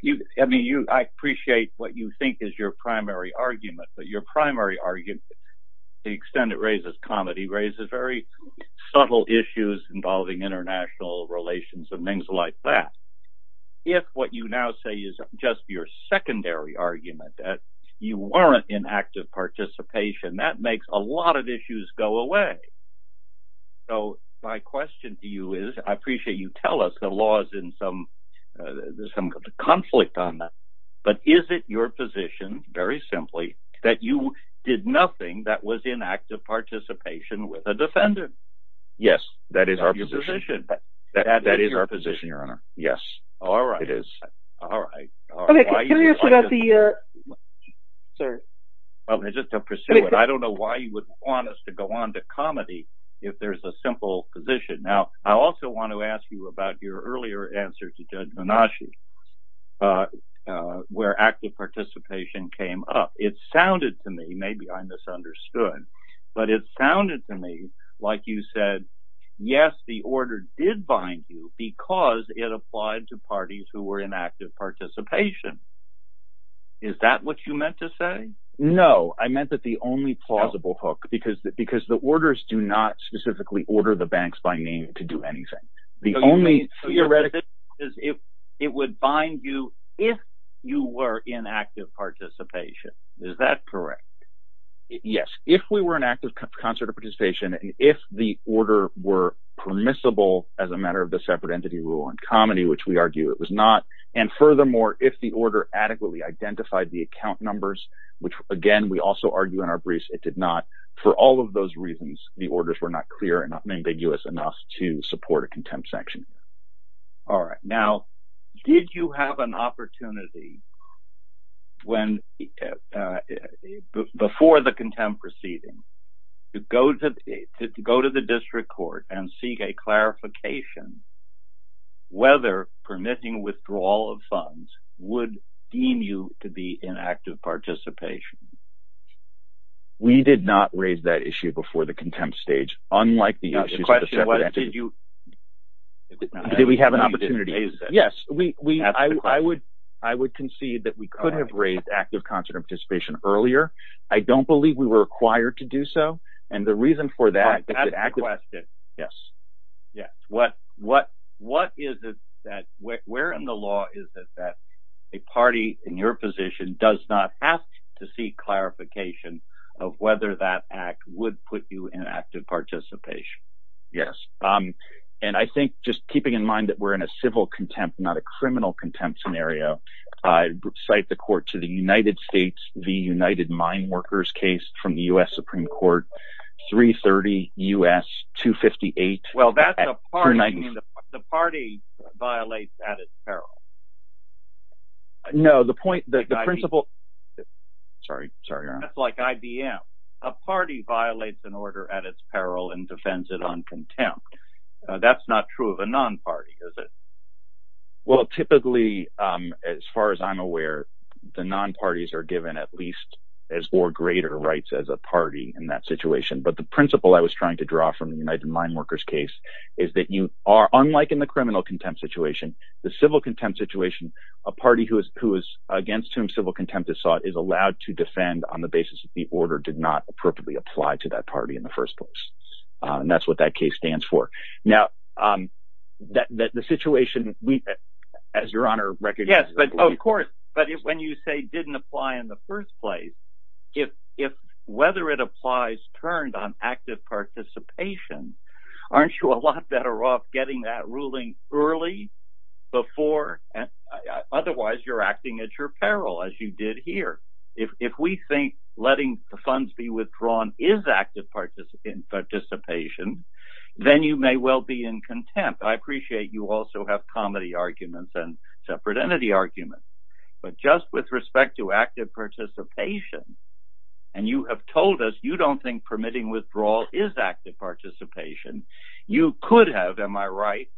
I appreciate what you think is your primary argument, but your primary argument, the extent it raises comedy raises very subtle issues involving international relations and things like that. If what you now say is just your secondary argument that you weren't in active participation, that makes a lot of issues go away. So my question to you is, I appreciate you tell us the laws in some, there's some conflict on that, but is it your position, very simply, that you did nothing that was inactive participation with a defendant? Yes, that is our position. That is our position, your honor. Yes. All right. It is. All right. Okay, can we just forget the, sir? Okay, just to pursue it, I don't know why you would want us to go on to comedy if there's a simple position. Now, I also want to ask you about your earlier answer to Judge Menashe, where active participation came up. It sounded to me, maybe I misunderstood, but it sounded to me like you said, yes, the order did bind you because it applied to parties who were in active participation. Is that what you meant to say? No, I meant that the only plausible hook, because the orders do not specifically order the banks by name to do anything. The only theoretical is it would bind you if you were in active participation. Is that correct? Yes. If we were in active concert of participation, if the order were permissible as a matter of the separate entity rule on comedy, which we argue it was not, and furthermore, if the order adequately identified the account numbers, which again, we also argue in our briefs, it did not. For all of those reasons, the orders were not clear and not ambiguous enough to support contempt sanctioning. All right. Now, did you have an opportunity before the contempt proceeding to go to the district court and seek a clarification whether permitting withdrawal of funds would deem you to be in active participation? We did not raise that issue before the contempt stage. Unlike the issue, did we have an opportunity? Yes. I would concede that we could have raised active concert of participation earlier. I don't believe we were required to do so. And the reason for that, yes. Yes. What is it that where in the law is that a party in your position does not have to seek active participation? Yes. And I think just keeping in mind that we're in a civil contempt, not a criminal contempt scenario, I would cite the court to the United States, the United Mine Workers case from the US Supreme Court, 330 US 258. Well, that's a party. The party violates at its peril. No, the point that the principle. Sorry, sorry. Like IBM, a party violates an order at its peril and defends it on contempt. That's not true of a non-party, is it? Well, typically, as far as I'm aware, the non-parties are given at least as or greater rights as a party in that situation. But the principle I was trying to draw from the United Mine Workers case is that you are unlike in the criminal contempt situation, the civil contempt situation, a party who the order did not appropriately apply to that party in the first place. And that's what that case stands for. Now, that the situation we as your honor, yes, but of course, but when you say didn't apply in the first place, if if whether it applies turned on active participation, aren't you a lot better off getting that ruling early before? Otherwise, you're acting at your peril, as you did here. If we think letting the funds be withdrawn is active participant participation, then you may well be in contempt. I appreciate you also have comedy arguments and separate entity arguments, but just with respect to active participation and you have told us you don't think permitting withdrawal is active participation, you could have, am I right,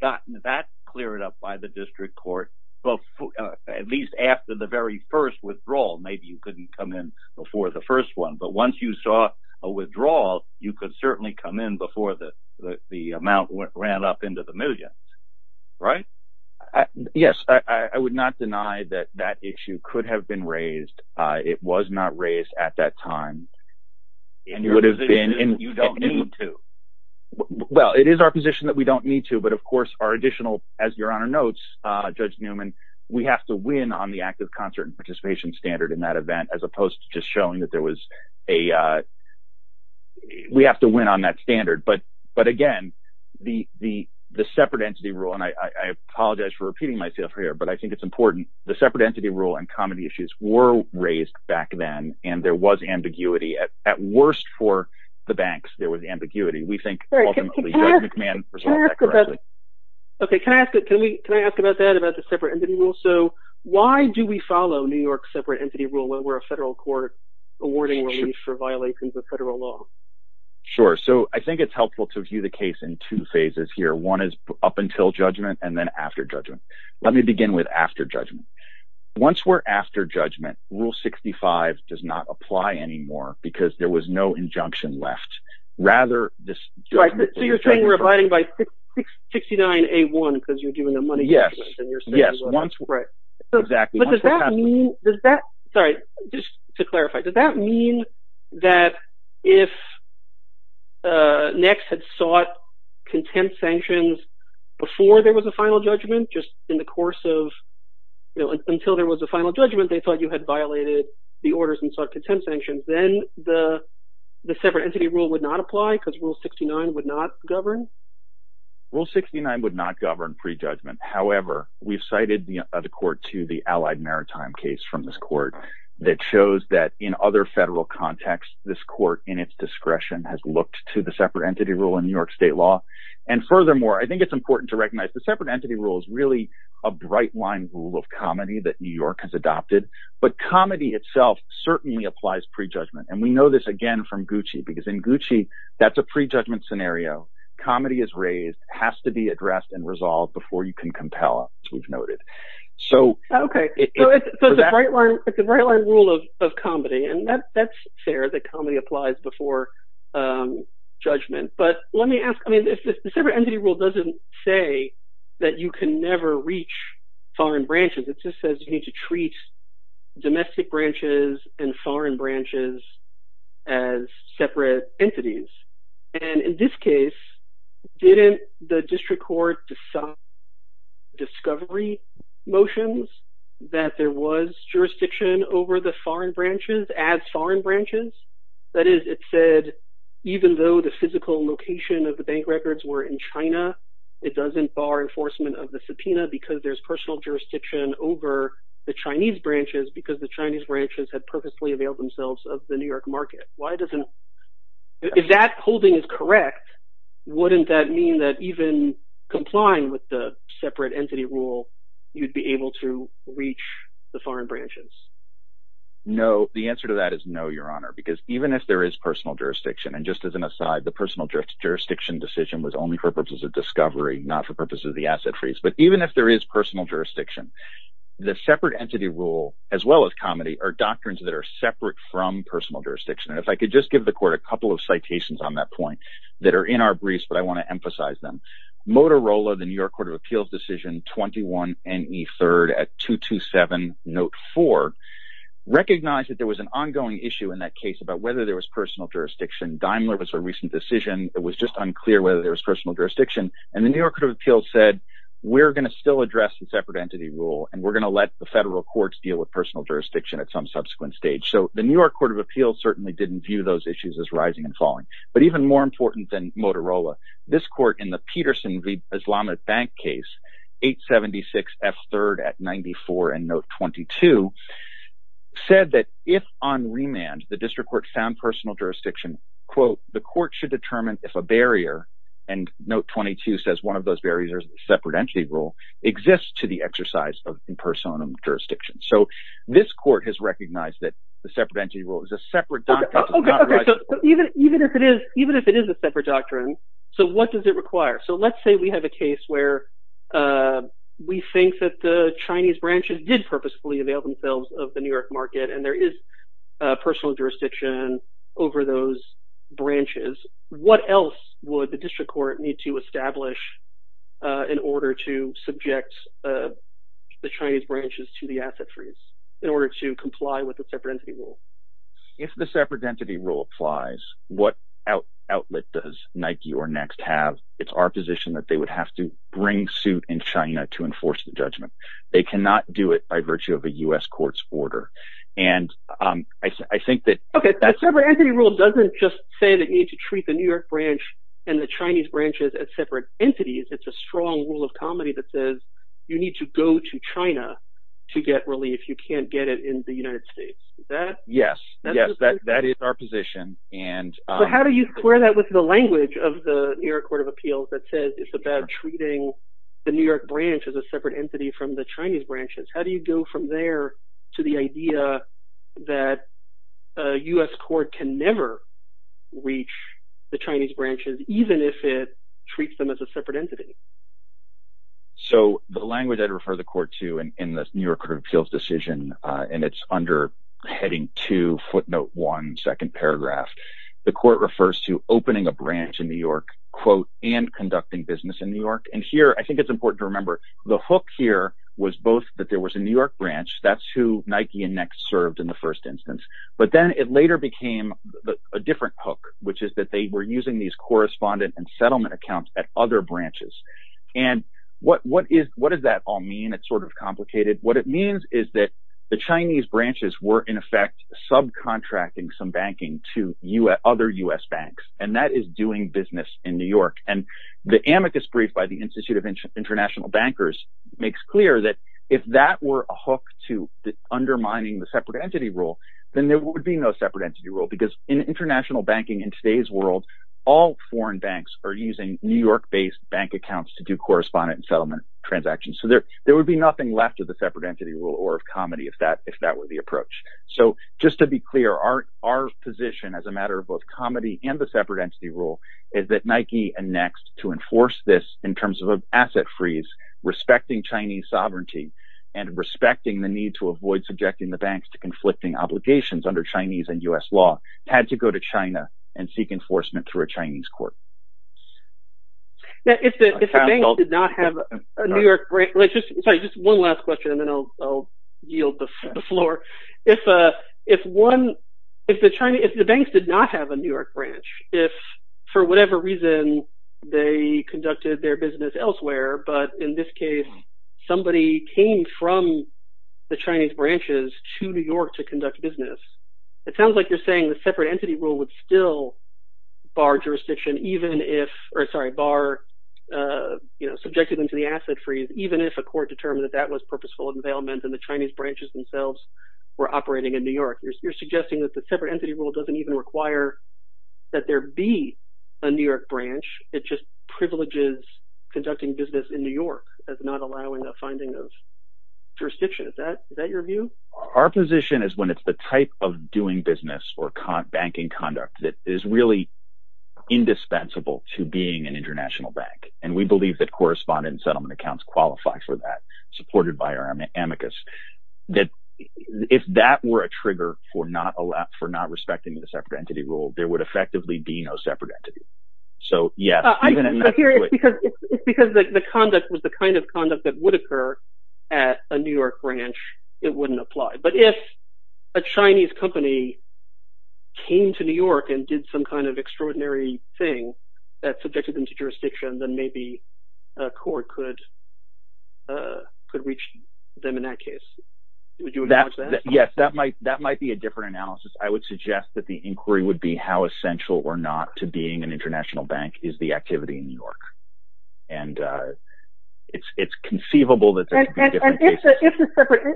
gotten that cleared up by the district court? Well, at least after the very first withdrawal, maybe you couldn't come in before the first one. But once you saw a withdrawal, you could certainly come in before the the amount ran up into the million. Right? Yes, I would not deny that that issue could have been raised. It was not raised at that time. It would have been and you don't need to. Well, it is our position that we don't need to. But of course, our additional, as your Honor notes, Judge Newman, we have to win on the active concert and participation standard in that event, as opposed to just showing that there was a we have to win on that standard. But but again, the the the separate entity rule and I apologize for repeating myself here, but I think it's important. The separate entity rule and comedy issues were raised back then and there was ambiguity at at worst for the banks. There was ambiguity. We think. OK, can I ask it? Can we can I ask about that about the separate entity rule? So why do we follow New York separate entity rule when we're a federal court awarding for violations of federal law? Sure. So I think it's helpful to view the case in two phases here. One is up until judgment and then after judgment. Let me begin with after judgment. Once we're after judgment, Rule 65 does not apply anymore because there was no injunction left. Rather, this. So you're saying we're abiding by 69 A1 because you're doing a money. Yes, yes. Once. Right. But does that mean does that sorry, just to clarify, does that mean that if. Next had sought contempt sanctions before there was a final judgment just in the course of, you know, until there was a final judgment, they thought you had violated the orders and contempt sanctions, then the the separate entity rule would not apply because Rule 69 would not govern. Rule 69 would not govern prejudgment. However, we've cited the court to the Allied Maritime case from this court that shows that in other federal context, this court in its discretion has looked to the separate entity rule in New York state law. And furthermore, I think it's important to recognize the separate entity rule is really a bright line rule of comedy that New York has adopted. But comedy itself certainly applies prejudgment. And we know this, again, from Gucci, because in Gucci, that's a prejudgment scenario. Comedy is raised, has to be addressed and resolved before you can compel us. We've noted so. OK, so it's a bright line. It's a bright line rule of comedy. And that's fair that comedy applies before judgment. But let me ask, I mean, if the separate entity rule doesn't say that you can never reach foreign branches, it just says you need to treat domestic branches and foreign branches as separate entities. And in this case, didn't the district court decide discovery motions that there was jurisdiction over the foreign branches as foreign branches? That is, it said, even though the physical location of the bank records were in China, it doesn't bar enforcement of the subpoena because there's personal jurisdiction over the Chinese branches because the Chinese branches had purposely availed themselves of the New York market. Why doesn't that holding is correct? Wouldn't that mean that even complying with the separate entity rule, you'd be able to reach the foreign branches? No, the answer to that is no, Your Honor, because even if there is personal jurisdiction, and just as an aside, the personal jurisdiction decision was only for purposes of discovery, not for purposes of the asset freeze. But even if there is personal jurisdiction, the separate entity rule, as well as comedy, are doctrines that are separate from personal jurisdiction. And if I could just give the court a couple of citations on that point that are in our briefs, but I want to emphasize them. Motorola, the New York Court of Appeals decision 21NE3 at 227 note 4, recognized that there was a recent decision. It was just unclear whether there was personal jurisdiction. And the New York Court of Appeals said, we're going to still address the separate entity rule. And we're going to let the federal courts deal with personal jurisdiction at some subsequent stage. So the New York Court of Appeals certainly didn't view those issues as rising and falling. But even more important than Motorola, this court in the Peterson v. Islamic Bank case, 876F3 at 94 and note 22, said that if on remand, the district court found personal jurisdiction, quote, the court should determine if a barrier, and note 22 says one of those barriers is a separate entity rule, exists to the exercise of impersonal jurisdiction. So this court has recognized that the separate entity rule is a separate doctrine. OK, so even if it is a separate doctrine, so what does it require? So let's say we have a case where we think that the Chinese branches did purposefully avail themselves of the New York market. And there is personal jurisdiction over those branches. What else would the district court need to establish in order to subject the Chinese branches to the asset freeze in order to comply with the separate entity rule? If the separate entity rule applies, what outlet does Nike or Next have? It's our position that they would have to bring suit in China to enforce the judgment. And I think that separate entity rule doesn't just say that you need to treat the New York branch and the Chinese branches as separate entities. It's a strong rule of comedy that says you need to go to China to get relief. You can't get it in the United States. Yes, yes, that is our position. And how do you clear that with the language of the New York Court of Appeals that says it's about treating the New York branch as a separate entity from the Chinese branches? How do you go from there to the idea that a U.S. court can never reach the Chinese branches, even if it treats them as a separate entity? So the language I'd refer the court to in the New York Court of Appeals decision, and it's under heading two, footnote one, second paragraph, the court refers to opening a branch in New York, quote, and conducting business in New York. And here I think it's important to remember the hook here was both that there was a New York branch. That's who Nike and Next served in the first instance. But then it later became a different hook, which is that they were using these correspondent and settlement accounts at other branches. And what is what does that all mean? It's sort of complicated. What it means is that the Chinese branches were, in effect, subcontracting some banking to other U.S. banks. And that is doing business in New York. And the amicus brief by the Institute of International Bankers makes clear that if that were a hook to undermining the separate entity rule, then there would be no separate entity rule, because in international banking in today's world, all foreign banks are using New York based bank accounts to do correspondent and settlement transactions. So there would be nothing left of the separate entity rule or of comedy if that were the approach. So just to be clear, our position as a matter of both comedy and the separate entity rule is that Nike and Next, to enforce this in terms of an asset freeze, respecting Chinese sovereignty and respecting the need to avoid subjecting the banks to conflicting obligations under Chinese and U.S. law, had to go to China and seek enforcement through a Chinese court. Now, if the banks did not have a New York branch, just one last question, and then I'll yield the floor. If the banks did not have a New York branch, if for whatever reason they conducted their business elsewhere, but in this case, somebody came from the Chinese branches to New York to conduct business, it sounds like you're saying the separate entity rule would still bar jurisdiction, even if, or sorry, bar, you know, subjected them to the asset freeze, even if a court determined that that was purposeful availment and the Chinese branches themselves were operating in New York, you're suggesting that the separate entity rule doesn't even require that there be a New York branch. It just privileges conducting business in New York as not allowing the finding of jurisdiction. Is that your view? Our position is when it's the type of doing business or banking conduct that is really indispensable to being an international bank. And we believe that correspondent settlement accounts qualify for that, supported by our amicus, that if that were a trigger for not a lot, for not respecting the separate entity rule, there would effectively be no separate entity. So, yeah. Because the conduct was the kind of conduct that would occur at a New York branch, it wouldn't apply. But if a Chinese company came to New York and did some kind of extraordinary thing that could reach them in that case. Yes, that might, that might be a different analysis. I would suggest that the inquiry would be how essential or not to being an international bank is the activity in New York. And it's conceivable that there could be different cases.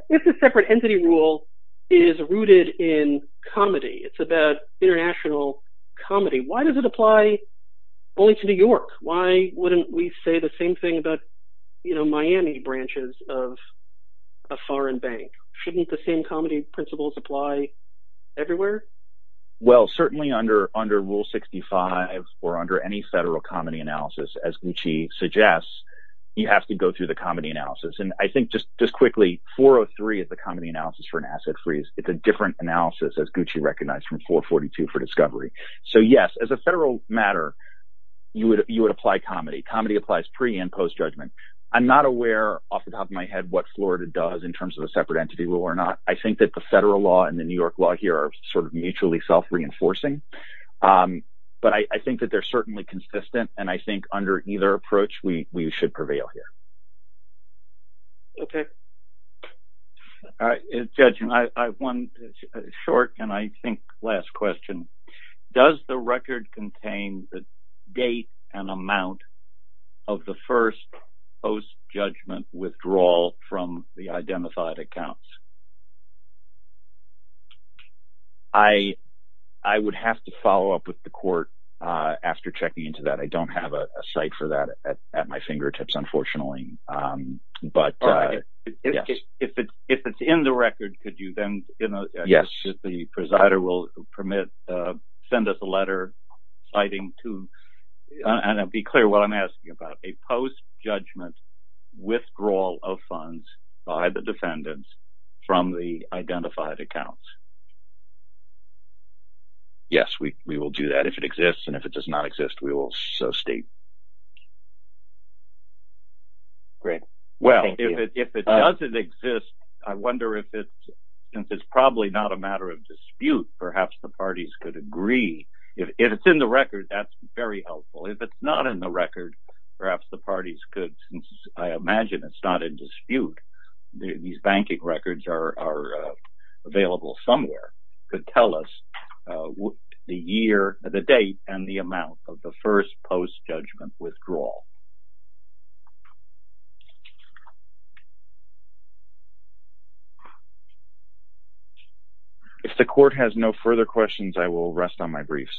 If the separate entity rule is rooted in comedy, it's about international comedy, why does it apply only to New York? Why wouldn't we say the same thing about, you know, Miami branches of a foreign bank? Shouldn't the same comedy principles apply everywhere? Well, certainly under under Rule 65 or under any federal comedy analysis, as Gucci suggests, you have to go through the comedy analysis. And I think just just quickly, 403 is the comedy analysis for an asset freeze. It's a different analysis, as Gucci recognized from 442 for discovery. So, yes, as a federal matter, you would you would apply comedy. Comedy applies pre and post judgment. I'm not aware off the top of my head what Florida does in terms of a separate entity law or not. I think that the federal law and the New York law here are sort of mutually self reinforcing. But I think that they're certainly consistent. And I think under either approach, we should prevail here. OK. Judge, I have one short and I think last question. Does the record contain the date and amount of the first post judgment withdrawal from the identified accounts? I I would have to follow up with the court after checking into that. I don't have a site for that at my fingertips, unfortunately. But if it's in the record, could you then? You know, yes, the presider will permit. Send us a letter citing to be clear what I'm asking about a post judgment withdrawal of funds by the defendants from the identified accounts. Yes, we will do that if it exists and if it does not exist, we will state. Great. Well, if it doesn't exist, I wonder if it's probably not a matter of dispute. Perhaps the parties could agree if it's in the record. That's very helpful if it's not in the record. Perhaps the parties could. I imagine it's not in dispute. These banking records are available somewhere to tell us the year, the date and the amount of the first post judgment withdrawal. Thank you. If the court has no further questions, I will rest on my briefs.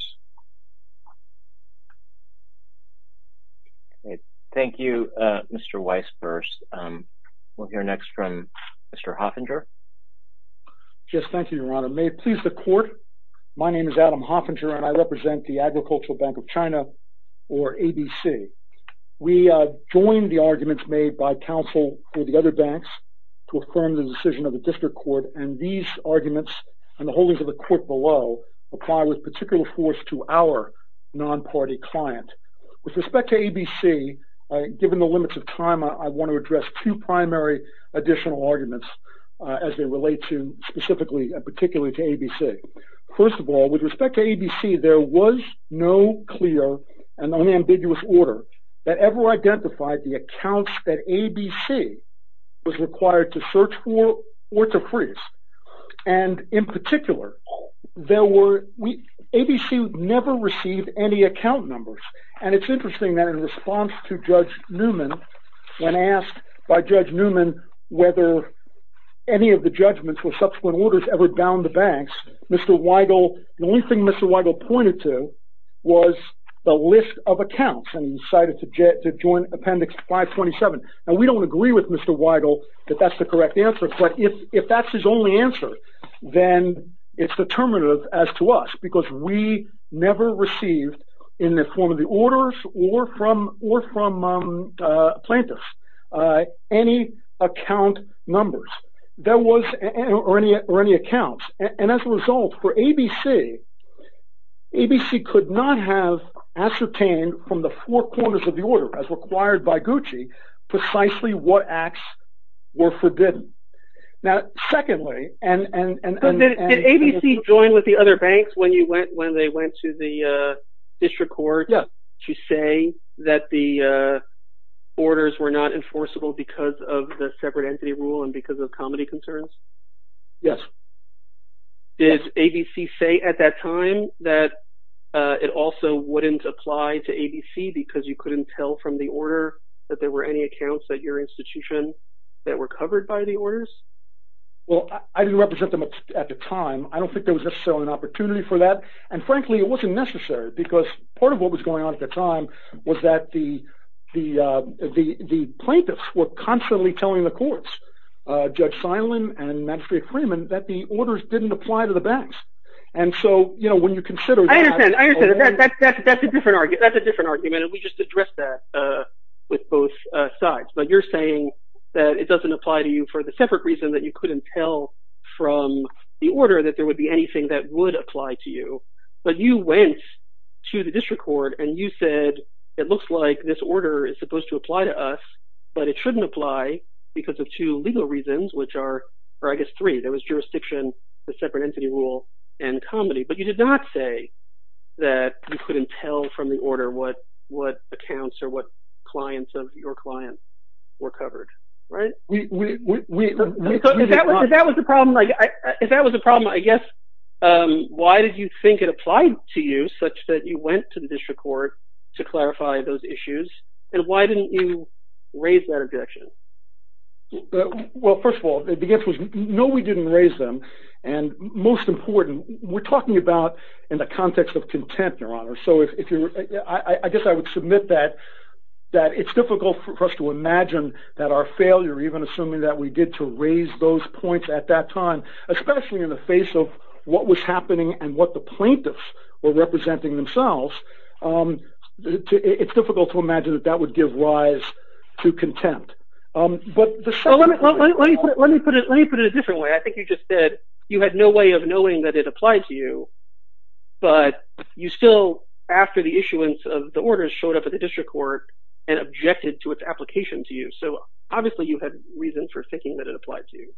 Thank you, Mr. Weiss. First, we'll hear next from Mr. Hoffinger. Just thank you, Your Honor. May it please the court. My name is Adam Hoffinger and I represent the Agricultural Bank of China or ABC. We joined the arguments made by counsel for the other banks to affirm the decision of the district court and these arguments and the holdings of the court below apply with particular force to our non-party client. With respect to ABC, given the limits of time, I want to address two primary additional arguments First of all, with respect to ABC, there was no clear and unambiguous order that ever identified the accounts that ABC was required to search for or to freeze. And in particular, ABC never received any account numbers. And it's interesting that in response to Judge Newman, when asked by Judge Newman whether any of the judgments or subsequent orders ever bound the banks, Mr. Weigel, the only thing Mr. Weigel pointed to was the list of accounts and decided to join Appendix 527. Now, we don't agree with Mr. Weigel that that's the correct answer, but if that's his only answer, then it's determinative as to us because we never received in the form of the orders or from plaintiffs any account numbers or any accounts. And as a result, for ABC, ABC could not have ascertained from the four corners of the order as required by GUCCI precisely what acts were forbidden. Now, secondly, and- But did ABC join with the other banks when they went to the district court? Yes. To say that the orders were not enforceable because of the separate entity rule and because of comedy concerns? Yes. Did ABC say at that time that it also wouldn't apply to ABC because you couldn't tell from the order that there were any accounts at your institution that were covered by the orders? Well, I didn't represent them at the time. I don't think there was necessarily an opportunity for that. And frankly, it wasn't necessary because part of what was going on at the time was that the plaintiffs were constantly telling the courts, Judge Seilen and Magistrate Freeman, that the orders didn't apply to the banks. And so when you consider- I understand. I understand. That's a different argument. That's a different argument, and we just addressed that with both sides. But you're saying that it doesn't apply to you for the separate reason that you couldn't tell from the order that there would be anything that would apply to you, but you went to the district court and you said, it looks like this order is supposed to apply to us, but it shouldn't apply because of two legal reasons, which are- or I guess three. There was jurisdiction, the separate entity rule, and comedy. But you did not say that you couldn't tell from the order what accounts or what clients of your clients were covered, right? We- If that was the problem, I guess, why did you think it applied to you such that you went to the district court to clarify those issues? And why didn't you raise that objection? Well, first of all, the answer is no, we didn't raise them. And most important, we're talking about in the context of contempt, Your Honor. So if you're- I guess I would submit that it's difficult for us to imagine that our failure, even assuming that we did to raise those points at that time, especially in the face of what was happening and what the plaintiffs were representing themselves, it's difficult to imagine that that would give rise to contempt. But the- Well, let me put it in a different way. I think you just said you had no way of knowing that it applied to you, but you still, after the issuance of the order, showed up at the district court and objected to its application to you. So obviously, you had reasons for thinking that it applied to you,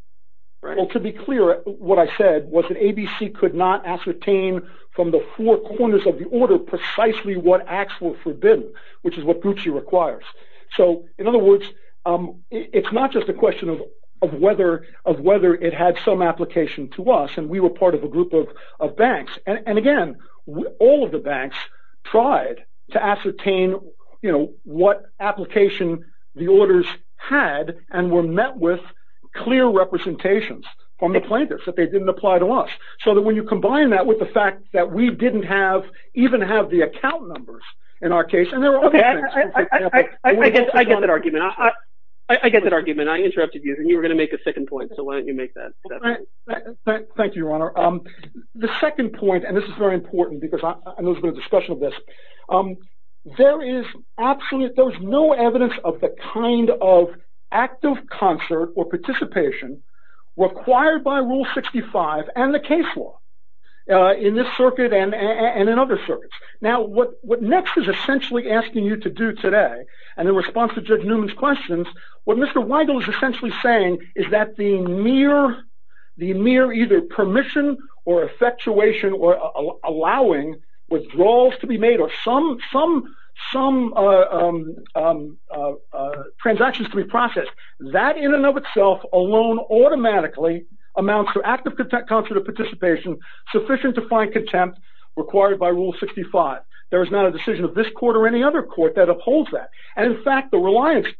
right? Well, to be clear, what I said was that ABC could not ascertain from the four corners of the order precisely what acts were forbidden, which is what Gucci requires. So in other words, it's not just a question of whether it had some application to us, and again, all of the banks tried to ascertain what application the orders had and were met with clear representations from the plaintiffs that they didn't apply to us. So that when you combine that with the fact that we didn't have- even have the account numbers in our case, and there were other things- Okay, I get that argument. I get that argument. I interrupted you, and you were going to make a second point, so why don't you make that? Thank you, Your Honor. The second point, and this is very important because I know there's been a discussion of this, there is absolute- there's no evidence of the kind of active concert or participation required by Rule 65 and the case law in this circuit and in other circuits. Now, what Next is essentially asking you to do today, and in response to Judge Newman's questions, what Mr. Weigel is essentially saying is that the mere either permission or effectuation or allowing withdrawals to be made or some transactions to be processed, that in and of itself alone automatically amounts to active concert or participation sufficient to find contempt required by Rule 65. There is not a decision of this court or any other court that upholds that. And in fact, the Reliance case,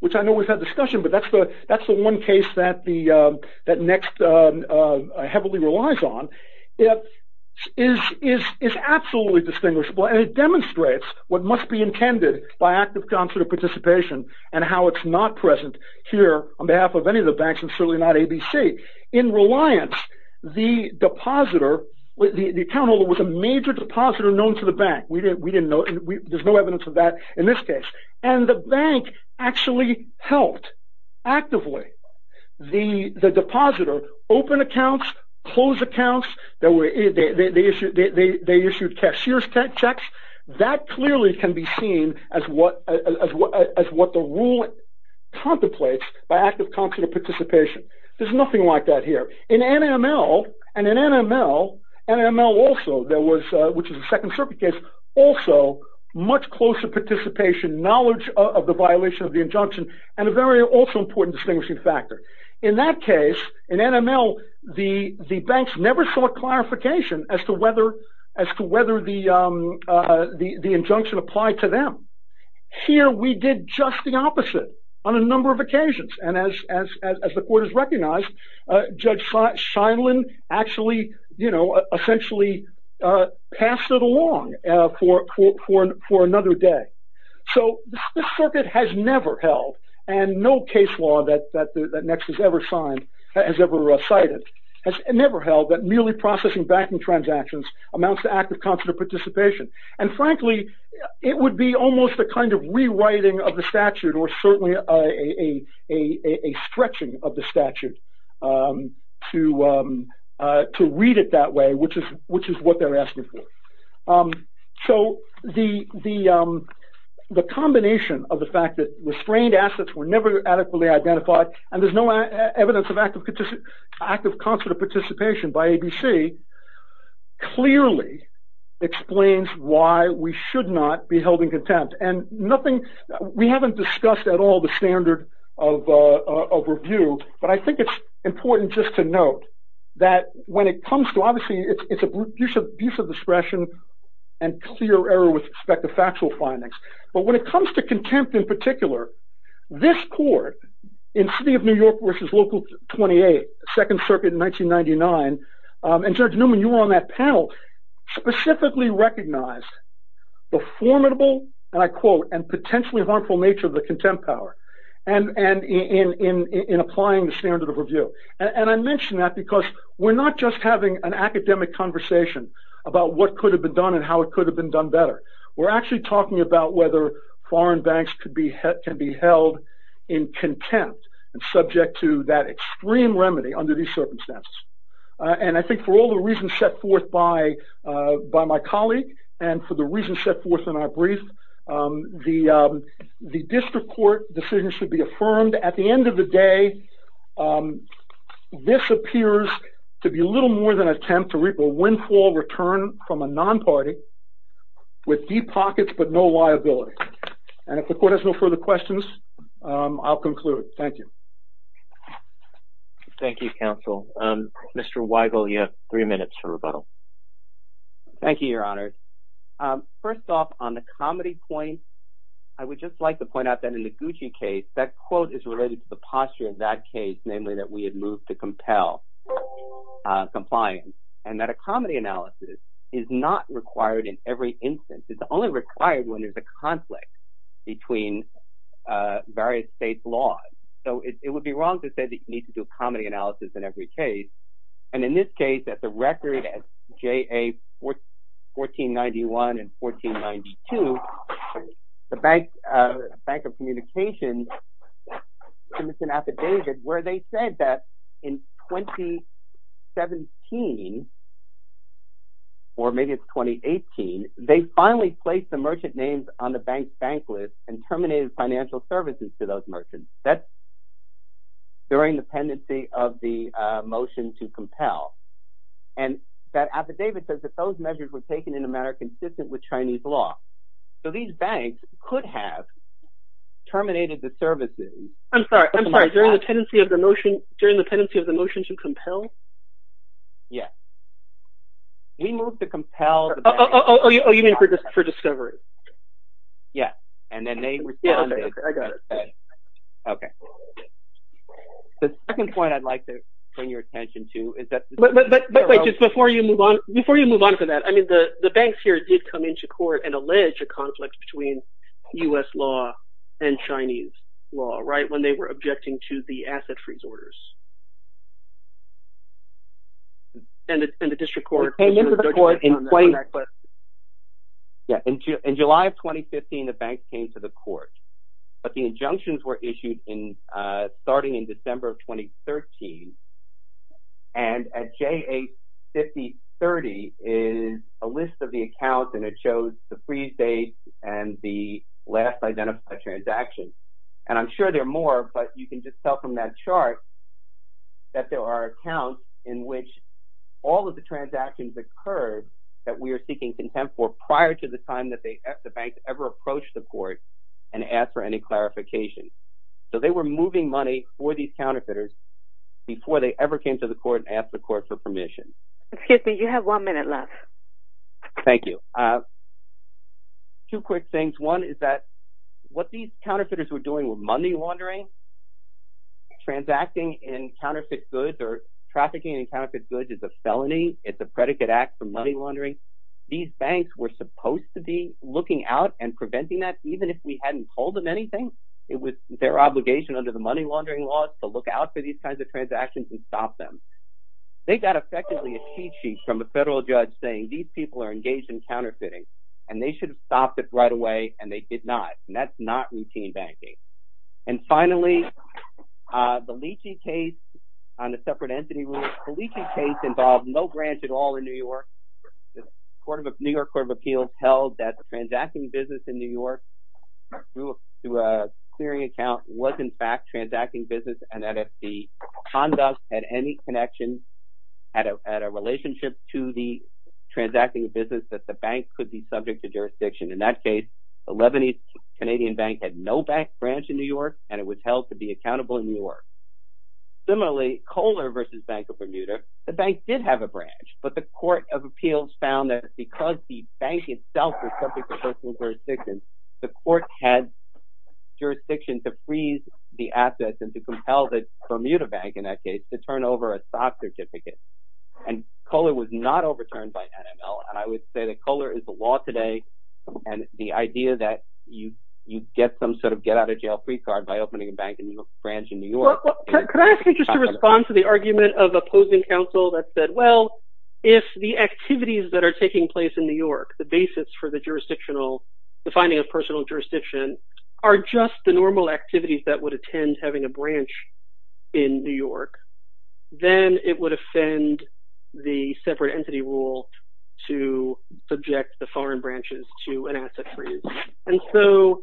which I know we've had discussion, but that's the one case that Next heavily relies on, is absolutely distinguishable, and it demonstrates what must be intended by active concert or participation and how it's not present here on behalf of any of the banks, and certainly not ABC. In Reliance, the depositor- the account holder was a major depositor known to the bank. There's no evidence of that in this case. And the bank actually helped actively the depositor open accounts, close accounts. They issued cashier's checks. That clearly can be seen as what the rule contemplates by active concert or participation. There's nothing like that here. In NML, and in NML also, there was, which is a second circuit case, also much closer participation, knowledge of the violation of the injunction, and a very also important distinguishing factor. In that case, in NML, the banks never sought clarification as to whether the injunction applied to them. Here, we did just the opposite on a number of occasions. And as the court has recognized, Judge Scheindlin actually, you know, essentially passed it along for another day. So, this circuit has never held, and no case law that NEXT has ever signed, has ever cited, has never held that merely processing banking transactions amounts to active concert or participation. And frankly, it would be almost a kind of rewriting of the statute or certainly a stretching of the statute to read it that way, which is what they're asking for. So, the combination of the fact that restrained assets were never adequately identified, and why we should not be held in contempt. And nothing, we haven't discussed at all the standard of review. But I think it's important just to note that when it comes to, obviously, it's abuse of discretion and clear error with respect to factual findings. But when it comes to contempt in particular, this court in city of New York versus local 28, second circuit in 1999, and Judge Newman, you were on that panel, specifically recognized the formidable, and I quote, and potentially harmful nature of the contempt power. And in applying the standard of review. And I mentioned that because we're not just having an academic conversation about what could have been done and how it could have been done better. We're actually talking about whether foreign banks can be held in contempt and subject to that extreme remedy under these circumstances. And I think for all the reasons set forth by my colleague, and for the reasons set forth in our brief, the district court decision should be affirmed. At the end of the day, this appears to be little more than an attempt to reap a windfall return from a non-party with deep pockets but no liability. And if the court has no further questions, I'll conclude. Thank you. Thank you, counsel. Mr. Weigel, you have three minutes for rebuttal. Thank you, your honor. First off on the comedy point, I would just like to point out that in the Gucci case, that quote is related to the posture of that case, namely that we had moved to compel compliance and that a comedy analysis is not required in every instance. It's only required when there's a conflict between various state's laws. So it would be wrong to say that you need to do comedy analysis in every case. And in this case, at the record, at JA 1491 and 1492, the Bank of Communications submits an affidavit where they said that in 2017, or maybe it's 2018, they finally placed the merchant names on the bank's bank list and terminated financial services to those merchants. That's during the pendency of the motion to compel. And that affidavit says that those measures were taken in a manner consistent with Chinese law. So these banks could have terminated the services. I'm sorry. I'm sorry. During the pendency of the motion to compel? Yes. We moved to compel. Oh, you mean for discovery? Yes. And then they responded. I got it. Okay. The second point I'd like to bring your attention to is that— But wait, just before you move on to that, I mean, the banks here did come into court and allege a conflict between U.S. law and Chinese law, right, when they were objecting to the asset freeze orders. And the district court— Yeah, in July of 2015, the banks came to the court, but the injunctions were issued in— starting in December of 2013. And at J85030 is a list of the accounts, and it shows the freeze date and the last identified transaction. And I'm sure there are more, but you can just tell from that chart that there are accounts in which all of the transactions occurred that we are seeking contempt for prior to the time that the banks ever approached the court and asked for any clarification. So they were moving money for these counterfeiters before they ever came to the court and asked the court for permission. Excuse me, you have one minute left. Thank you. Two quick things. One is that what these counterfeiters were doing was money laundering, and that's not routine banking. Transacting in counterfeit goods or trafficking in counterfeit goods is a felony. It's a predicate act for money laundering. These banks were supposed to be looking out and preventing that. Even if we hadn't told them anything, it was their obligation under the money laundering laws to look out for these kinds of transactions and stop them. They got, effectively, a cheat sheet from a federal judge saying these people are engaged in counterfeiting, and they should have stopped it right away, and they did not. And that's not routine banking. And finally, the Leachy case on the separate entity rule. The Leachy case involved no branch at all in New York. The New York Court of Appeals held that the transacting business in New York through a clearing account was, in fact, transacting business, and that if the conduct had any connection, had a relationship to the transacting business, that the bank could be subject to jurisdiction. In that case, the Lebanese Canadian Bank had no bank branch in New York, and it was held to be accountable in New York. Similarly, Kohler versus Bank of Bermuda, the bank did have a branch, but the Court of Appeals found that because the bank itself was subject to personal jurisdiction, the court had jurisdiction to freeze the assets and to compel the Bermuda Bank, in that case, to turn over a soft certificate. And Kohler was not overturned by NML. And I would say that Kohler is the law today, and the idea that you get some sort of get out of jail free card by opening a bank branch in New York. Well, could I ask you just to respond to the argument of opposing counsel that said, well, if the activities that are taking place in New York, the basis for the jurisdictional, defining a personal jurisdiction, are just the normal activities that would attend having a branch in New York, then it would offend the separate entity rule to subject the foreign branches to an asset freeze. And so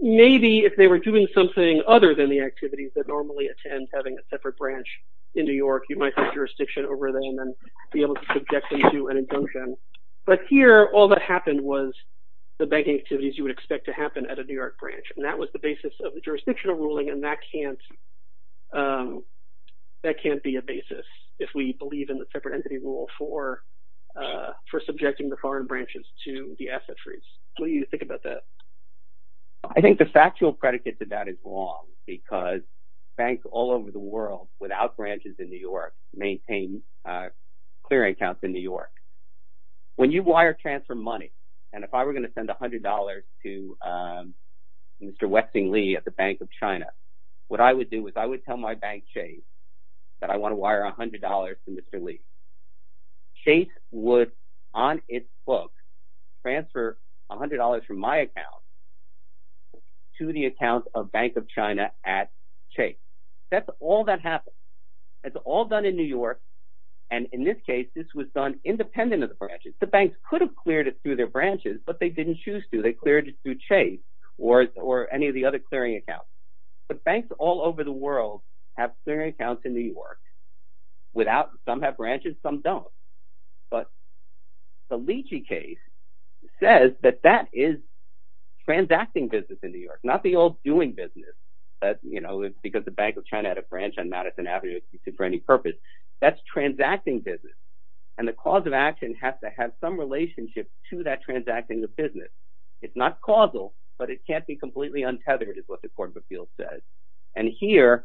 maybe if they were doing something other than the activities that normally attend having a separate branch in New York, you might have jurisdiction over them and be able to subject them to an injunction. But here, all that happened was the banking activities you would expect to happen at a New York branch. And that was the basis of the jurisdictional ruling, and that can't be a basis if we believe in the separate entity rule for subjecting the foreign branches to the asset freeze. What do you think about that? I think the factual predicate to that is wrong, because banks all over the world, without branches in New York, maintain clearing counts in New York. When you wire transfer money, and if I were going to send $100 to Mr. Westing Lee at the Bank of China, what I would do is I would tell my bank, Chase, that I want to wire $100 to Mr. Lee. Chase would, on its book, transfer $100 from my account to the account of Bank of China at Chase. That's all that happens. That's all done in New York. And in this case, this was done independent of the branches. The banks could have cleared it through their branches, but they didn't choose to. They cleared it through Chase or any of the other clearing accounts. The banks all over the world have clearing accounts in New York. Some have branches, some don't. But the Leachy case says that that is transacting business in New York, not the old doing business. Because the Bank of China had a branch on Madison Avenue for any purpose. That's transacting business. And the cause of action has to have some relationship to that transacting of business. It's not causal, but it can't be completely untethered is what the Court of Appeals says. And here,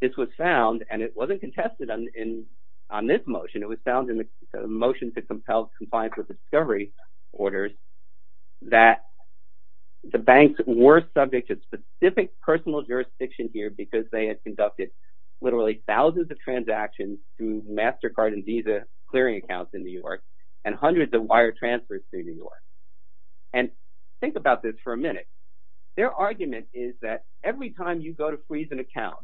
this was found, and it wasn't contested on this motion. It was found in the motion to compel compliance with the discovery orders that the banks were subject to specific personal jurisdiction here because they had conducted literally thousands of transactions through MasterCard and Visa clearing accounts in New York and hundreds of wire transfers through New York. And think about this for a minute. Their argument is that every time you go to freeze an account,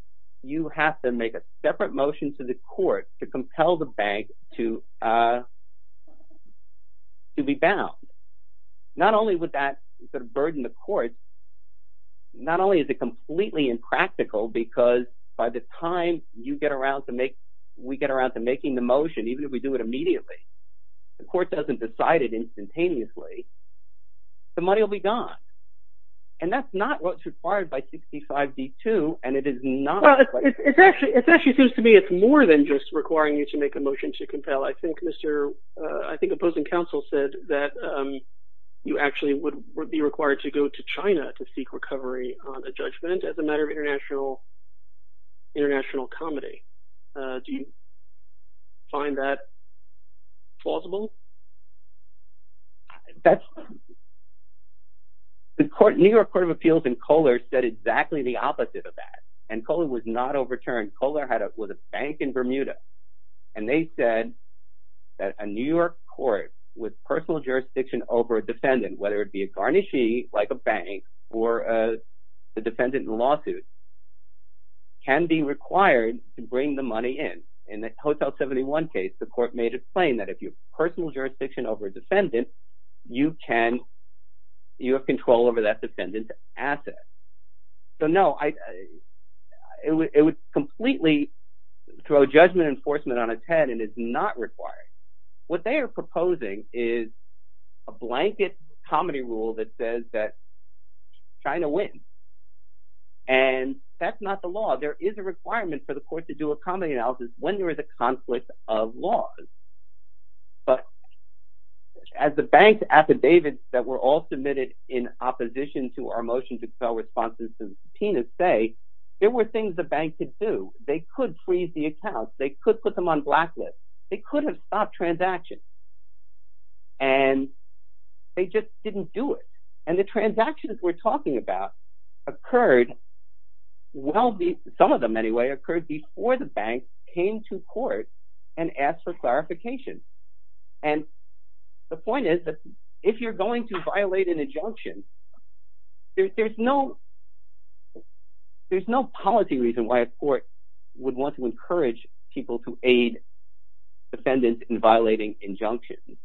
you have to make a separate motion to the court to compel the bank to be bound. Not only would that sort of burden the court, not only is it completely impractical because by the time we get around to making the motion, even if we do it immediately, the court doesn't decide it instantaneously, the money will be gone. And that's not what's required by 65b-2, and it is not- Well, it actually seems to me it's more than just requiring you to make a motion to compel. I think opposing counsel said that you actually would be required to go to China to seek recovery on a judgment as a matter of international comedy. Do you find that plausible? The New York Court of Appeals and Kohler said exactly the opposite of that. And Kohler was not overturned. Kohler was a bank in Bermuda. And they said that a New York court with personal jurisdiction over a defendant, whether it be a garnishee like a bank or a defendant in lawsuit, can be required to bring the money in. In the Hotel 71 case, the court made it plain that if you have personal jurisdiction over a defendant, you have control over that defendant's assets. So no, it would completely throw judgment enforcement on its head and it's not required. What they are proposing is a blanket comedy rule that says that China wins. And that's not the law. There is a requirement for the court to do a comedy analysis when there is a conflict of laws. But as the bank's affidavits that were all submitted in opposition to our motion to compel responses to the subpoenas say, there were things the bank could do. They could freeze the accounts. They could put them on blacklist. They could have stopped transactions. And they just didn't do it. And the transactions we're talking about occurred, well, some of them anyway, occurred before the bank came to court and asked for clarification. And the point is that if you're going to violate an injunction, there's no policy reason why a court would want to encourage people to aid defendants in violating injunctions.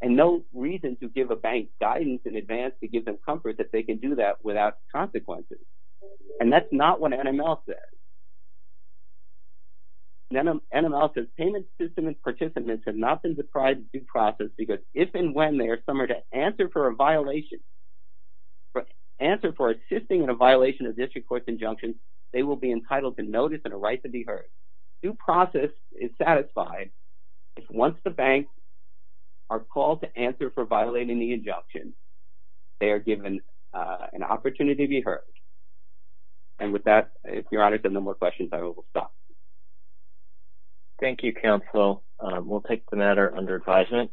And no reason to give a bank guidance in advance to give them comfort that they can do that without consequences. And that's not what NML says. NML says payment system participants have not been described due process because if and when they are summoned to answer for a violation, answer for assisting in a violation of district court's injunctions, they will be entitled to notice and a right to be heard. Due process is satisfied if once the bank are called to answer for violating the injunction, they are given an opportunity to be heard. And with that, if Your Honor, if there are no more questions, I will stop. Thank you, counsel. We'll take the matter under advisement.